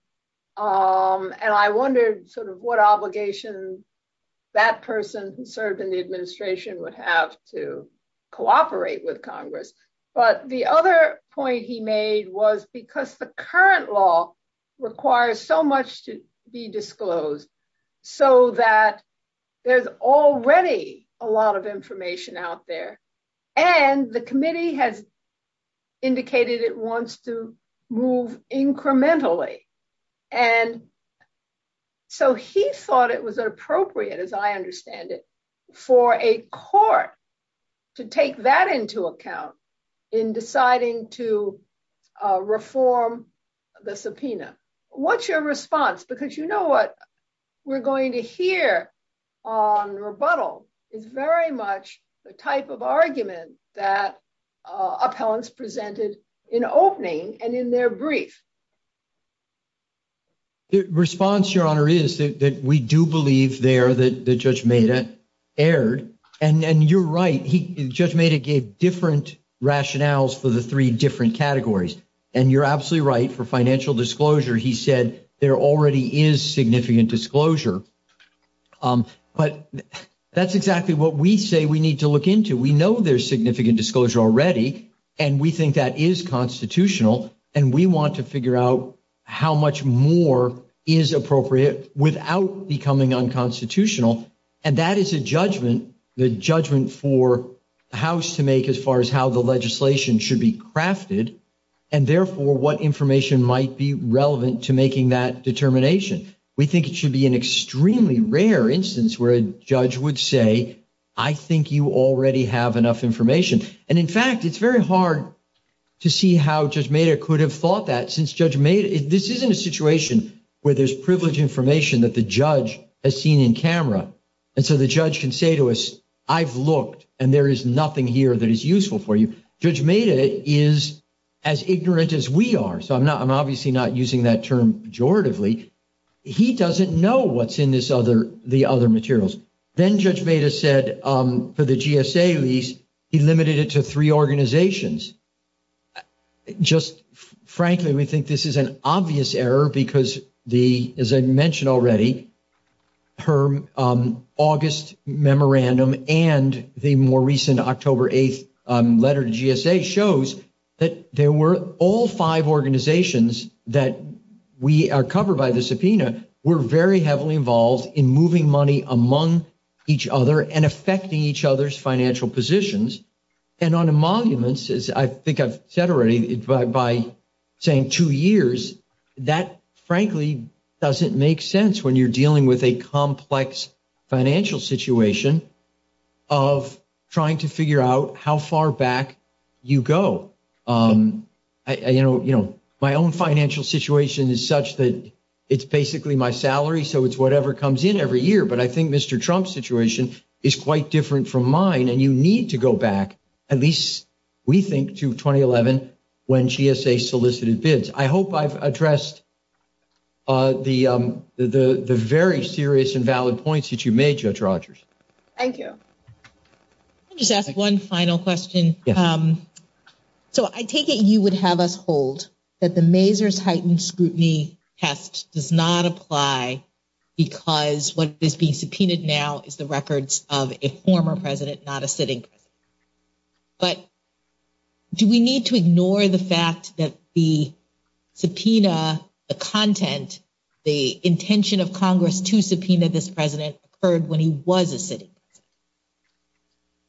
and I wondered sort of what obligations that person who served in the administration would have to cooperate with Congress. But the other point he made was because the current law requires so much to be disclosed, so that there's already a lot of information out there, and the committee has indicated it wants to move incrementally. And so he thought it was appropriate, as I understand it, for a court to take that into account in deciding to reform the subpoena. What's your response? Because you know what we're going to hear on rebuttal is very much the type of argument that appellants presented in opening and in their brief. The response, Your Honor, is that we do believe there that Judge Maeda erred, and you're right. Judge Maeda gave different rationales for the three different categories, and you're absolutely right. For financial disclosure, he said there already is significant disclosure, but that's exactly what we say we need to look into. We know there's significant disclosure already, and we think that is constitutional, and we want to figure out how much more is appropriate without becoming unconstitutional. And that is a judgment, the judgment for the House to make as far as how the legislation should be crafted, and therefore what information might be relevant to making that determination. We think it should be an extremely rare instance where a judge would say, I think you already have enough information. And in fact, it's very hard to see how Judge Maeda could have thought that, since Judge Maeda, this isn't a situation where there's privileged information that the judge has seen in camera. And so the judge can say to us, I've looked, and there is nothing here that is useful for you. Judge Maeda is as ignorant as we are, so I'm obviously not using that term pejoratively. He doesn't know what's in the other materials. Then Judge Maeda said for the GSA lease, he limited it to three organizations. Just frankly, we think this is an obvious error because, as I mentioned already, her August memorandum and the more recent October 8th letter to GSA shows that there were all five organizations that we are covered by the subpoena were very heavily involved in moving money among each other and affecting each other's financial positions. And on emoluments, as I think I've said already by saying two years, that frankly doesn't make sense when you're dealing with a complex financial situation of trying to figure out how far back you go. My own financial situation is such that it's basically my salary, so it's whatever comes in every year. But I think Mr. Trump's situation is quite different from mine, and you need to go back, at least we think, to 2011 when GSA solicited bids. I hope I've addressed the very serious and valid points that you made, Judge Rogers. Thank you. Jeff, one final question. So I take it you would have us hold that the Mazars Heightened Scrutiny Test does not apply because what is being subpoenaed now is the records of a former president, not a sitting president. But do we need to ignore the fact that the subpoena, the content, the intention of Congress to subpoena this president occurred when he was a sitting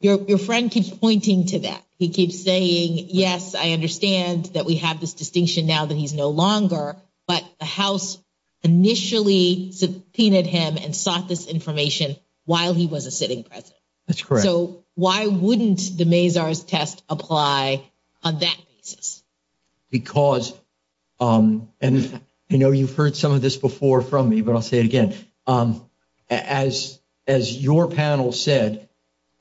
president? Your friend keeps pointing to that. He keeps saying, yes, I understand that we have this distinction now that he's no longer, but the House initially subpoenaed him and sought this information while he was a sitting president. That's correct. So why wouldn't the Mazars test apply on that basis? And, you know, you've heard some of this before from me, but I'll say it again. As your panel said,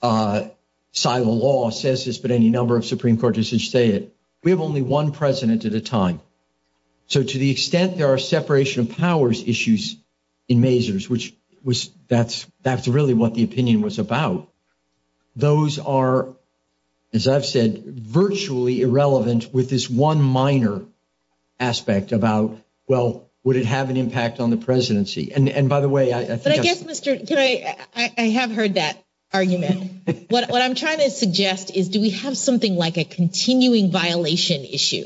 side of the law, says this, but any number of Supreme Court judges say it, we have only one president at a time. So to the extent there are separation of powers issues in Mazars, which that's really what the opinion was about, those are, as I've said, virtually irrelevant with this one minor aspect about, well, would it have an impact on the presidency? And by the way, I have heard that argument. What I'm trying to suggest is do we have something like a continuing violation issue?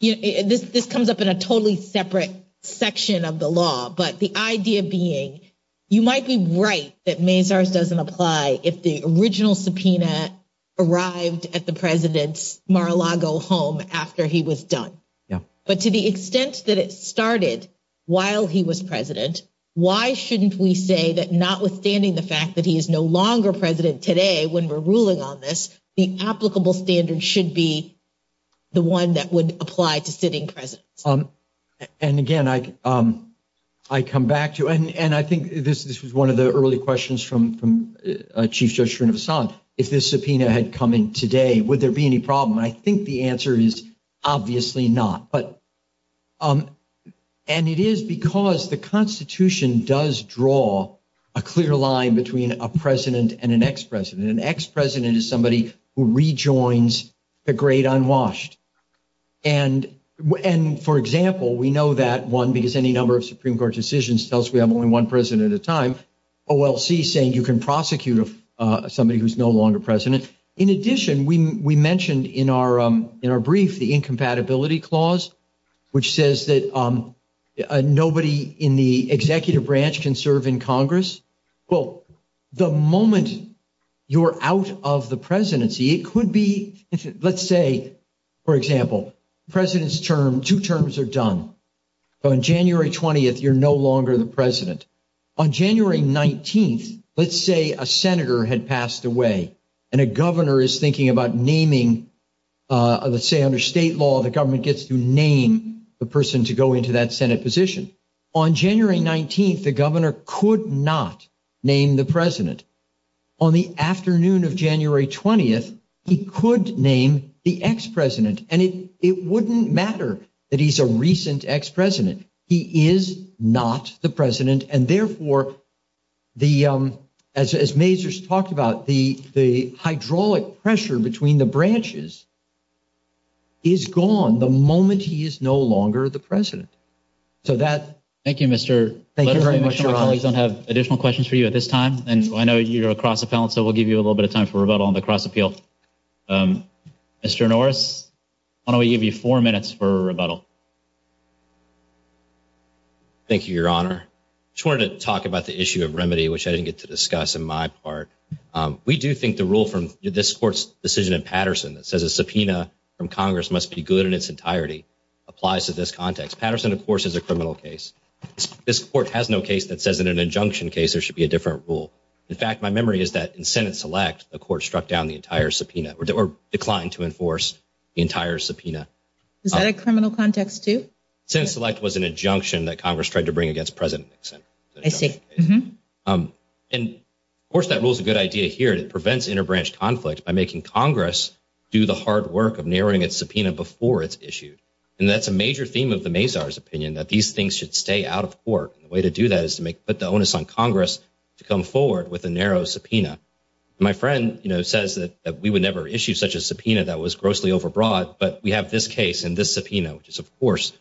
This comes up in a totally separate section of the law, but the idea being you might be right that Mazars doesn't apply if the original subpoena arrived at the president's Mar-a-Lago home after he was done. But to the extent that it started while he was president, why shouldn't we say that notwithstanding the fact that he is no longer president today when we're ruling on this, the applicable standard should be the one that would apply to sitting presidents? And again, I come back to, and I think this was one of the early questions from Chief Judge Srinivasan, if this subpoena had come in today, would there be any problem? I think the answer is obviously not. And it is because the Constitution does draw a clear line between a president and an ex-president. An ex-president is somebody who rejoins the great unwashed. And for example, we know that, one, because any number of Supreme Court decisions tells us we have only one president at a time. OLC is saying you can prosecute somebody who's no longer president. In addition, we mentioned in our brief the incompatibility clause, which says that nobody in the executive branch can serve in Congress. Well, the moment you're out of the presidency, it could be, let's say, for example, two terms are done. On January 20th, you're no longer the president. On January 19th, let's say a senator had passed away and a governor is thinking about naming, let's say under state law, the government gets to name the person to go into that Senate position. On January 19th, the governor could not name the president. On the afternoon of January 20th, he could name the ex-president. And it wouldn't matter that he's a recent ex-president. He is not the president, and therefore, as Mazur's talked about, the hydraulic pressure between the branches is gone the moment he is no longer the president. Thank you, Mr. O'Reilly. We have additional questions for you at this time. And I know you're across the phone, so we'll give you a little bit of time for rebuttal on the cross-appeal. Mr. Norris, why don't we give you four minutes for rebuttal? Thank you, Your Honor. I just wanted to talk about the issue of remedy, which I didn't get to discuss on my part. We do think the rule from this court's decision in Patterson that says a subpoena from Congress must be good in its entirety applies to this context. Patterson, of course, is a criminal case. This court has no case that says in an injunction case there should be a different rule. In fact, my memory is that in Senate Select, the court struck down the entire subpoena or declined to enforce the entire subpoena. Is that a criminal context, too? Senate Select was an injunction that Congress tried to bring against President Nixon. I see. And, of course, that rule is a good idea here. It prevents interbranch conflict by making Congress do the hard work of narrowing its subpoena before it's issued. And that's a major theme of the Mazars' opinion, that these things should stay out of court. The way to do that is to put the onus on Congress to come forward with a narrow subpoena. My friend says that we would never issue such a subpoena that was grossly overbroad. But we have this case and this subpoena, which is, of course,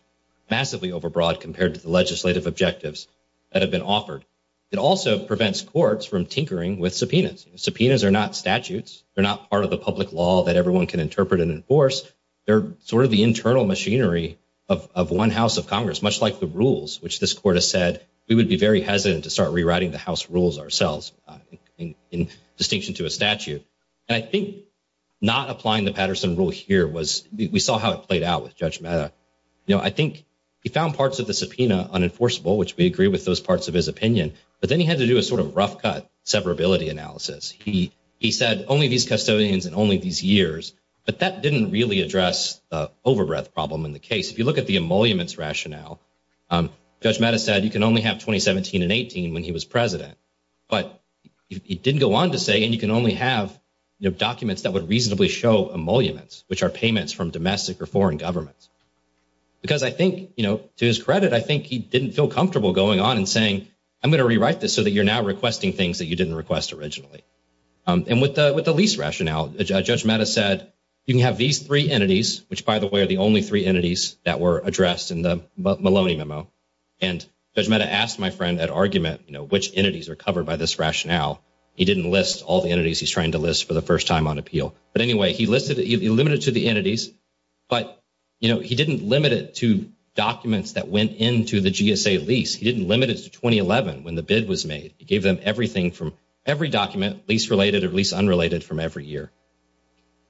massively overbroad compared to the legislative objectives that have been offered. It also prevents courts from tinkering with subpoenas. Subpoenas are not statutes. They're not part of the public law that everyone can interpret and enforce. They're sort of the internal machinery of one House of Congress, much like the rules, which this court has said we would be very hesitant to start rewriting the House rules ourselves, in distinction to a statute. And I think not applying the Patterson rule here was – we saw how it played out with Judge Mehta. You know, I think he found parts of the subpoena unenforceable, which we agree with those parts of his opinion. But then he had to do a sort of rough-cut separability analysis. He said, only these custodians and only these years. But that didn't really address the overwrought problem in the case. If you look at the emoluments rationale, Judge Mehta said you can only have 2017 and 2018 when he was president. But he didn't go on to say you can only have documents that would reasonably show emoluments, which are payments from domestic or foreign governments. Because I think, you know, to his credit, I think he didn't feel comfortable going on and saying I'm going to rewrite this so that you're now requesting things that you didn't request originally. And with the lease rationale, Judge Mehta said you can have these three entities, which, by the way, are the only three entities that were addressed in the Maloney memo. And Judge Mehta asked my friend at argument, you know, which entities are covered by this rationale. He didn't list all the entities he's trying to list for the first time on appeal. But anyway, he listed it. He limited it to the entities. But, you know, he didn't limit it to documents that went into the GSA lease. He didn't limit it to 2011 when the bid was made. He gave them everything from every document, lease-related or lease-unrelated, from every year.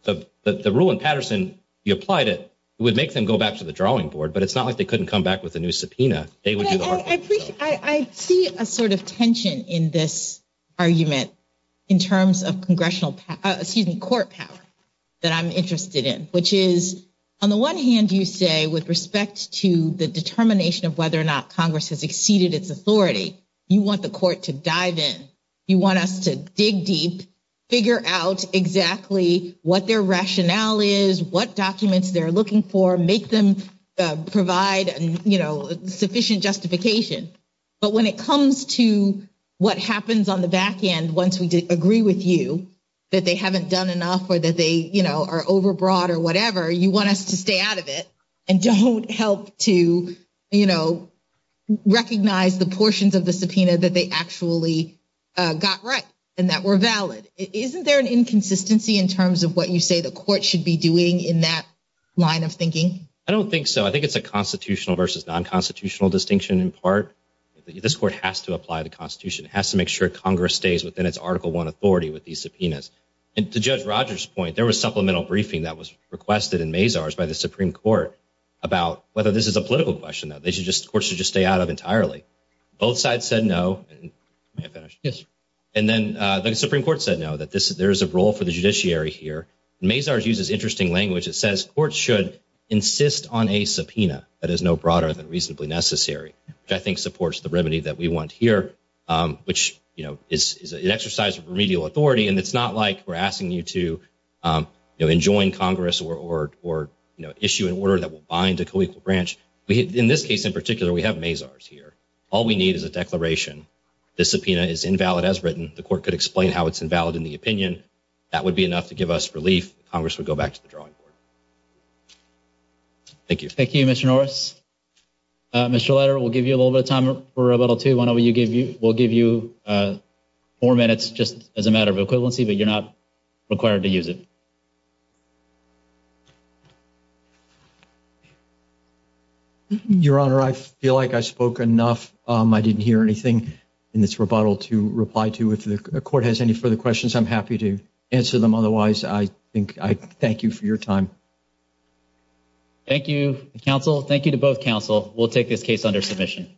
So the rule in Patterson, you applied it. It would make them go back to the drawing board, but it's not like they couldn't come back with a new subpoena. I see a sort of tension in this argument in terms of congressional, excuse me, court power that I'm interested in, which is, on the one hand, you say with respect to the determination of whether or not Congress has exceeded its authority, you want the court to dive in. You want us to dig deep, figure out exactly what their rationale is, what documents they're looking for, make them provide, you know, sufficient justification. But when it comes to what happens on the back end once we agree with you that they haven't done enough or that they, you know, are overbroad or whatever, you want us to stay out of it and don't help to, you know, recognize the portions of the subpoena that they actually got right and that were valid. Isn't there an inconsistency in terms of what you say the court should be doing in that line of thinking? I don't think so. I think it's a constitutional versus non-constitutional distinction in part. This court has to apply the Constitution. It has to make sure Congress stays within its Article I authority with these subpoenas. And to Judge Rogers' point, there was supplemental briefing that was requested in Mazars by the Supreme Court about whether this is a political question that the court should just stay out of entirely. Both sides said no. May I finish? Yes. And then the Supreme Court said no, that there is a role for the judiciary here. Mazars uses interesting language that says courts should insist on a subpoena that is no broader than reasonably necessary, which I think supports the remedy that we want here, which, you know, is an exercise of remedial authority. And it's not like we're asking you to, you know, enjoin Congress or, you know, issue an order that will bind a colloquial branch. In this case in particular, we have Mazars here. All we need is a declaration. The subpoena is invalid as written. The court could explain how it's invalid in the opinion. That would be enough to give us relief. Congress would go back to the drawing board. Thank you. Thank you, Mr. Norris. Mr. Leder, we'll give you a little bit of time for a little too. Why don't we give you – we'll give you four minutes just as a matter of equivalency, but you're not required to use it. Your Honor, I feel like I spoke enough. I didn't hear anything in this rebuttal to reply to. If the court has any further questions, I'm happy to answer them. Otherwise, I thank you for your time. Thank you, counsel. Thank you to both counsel. We'll take this case under submission.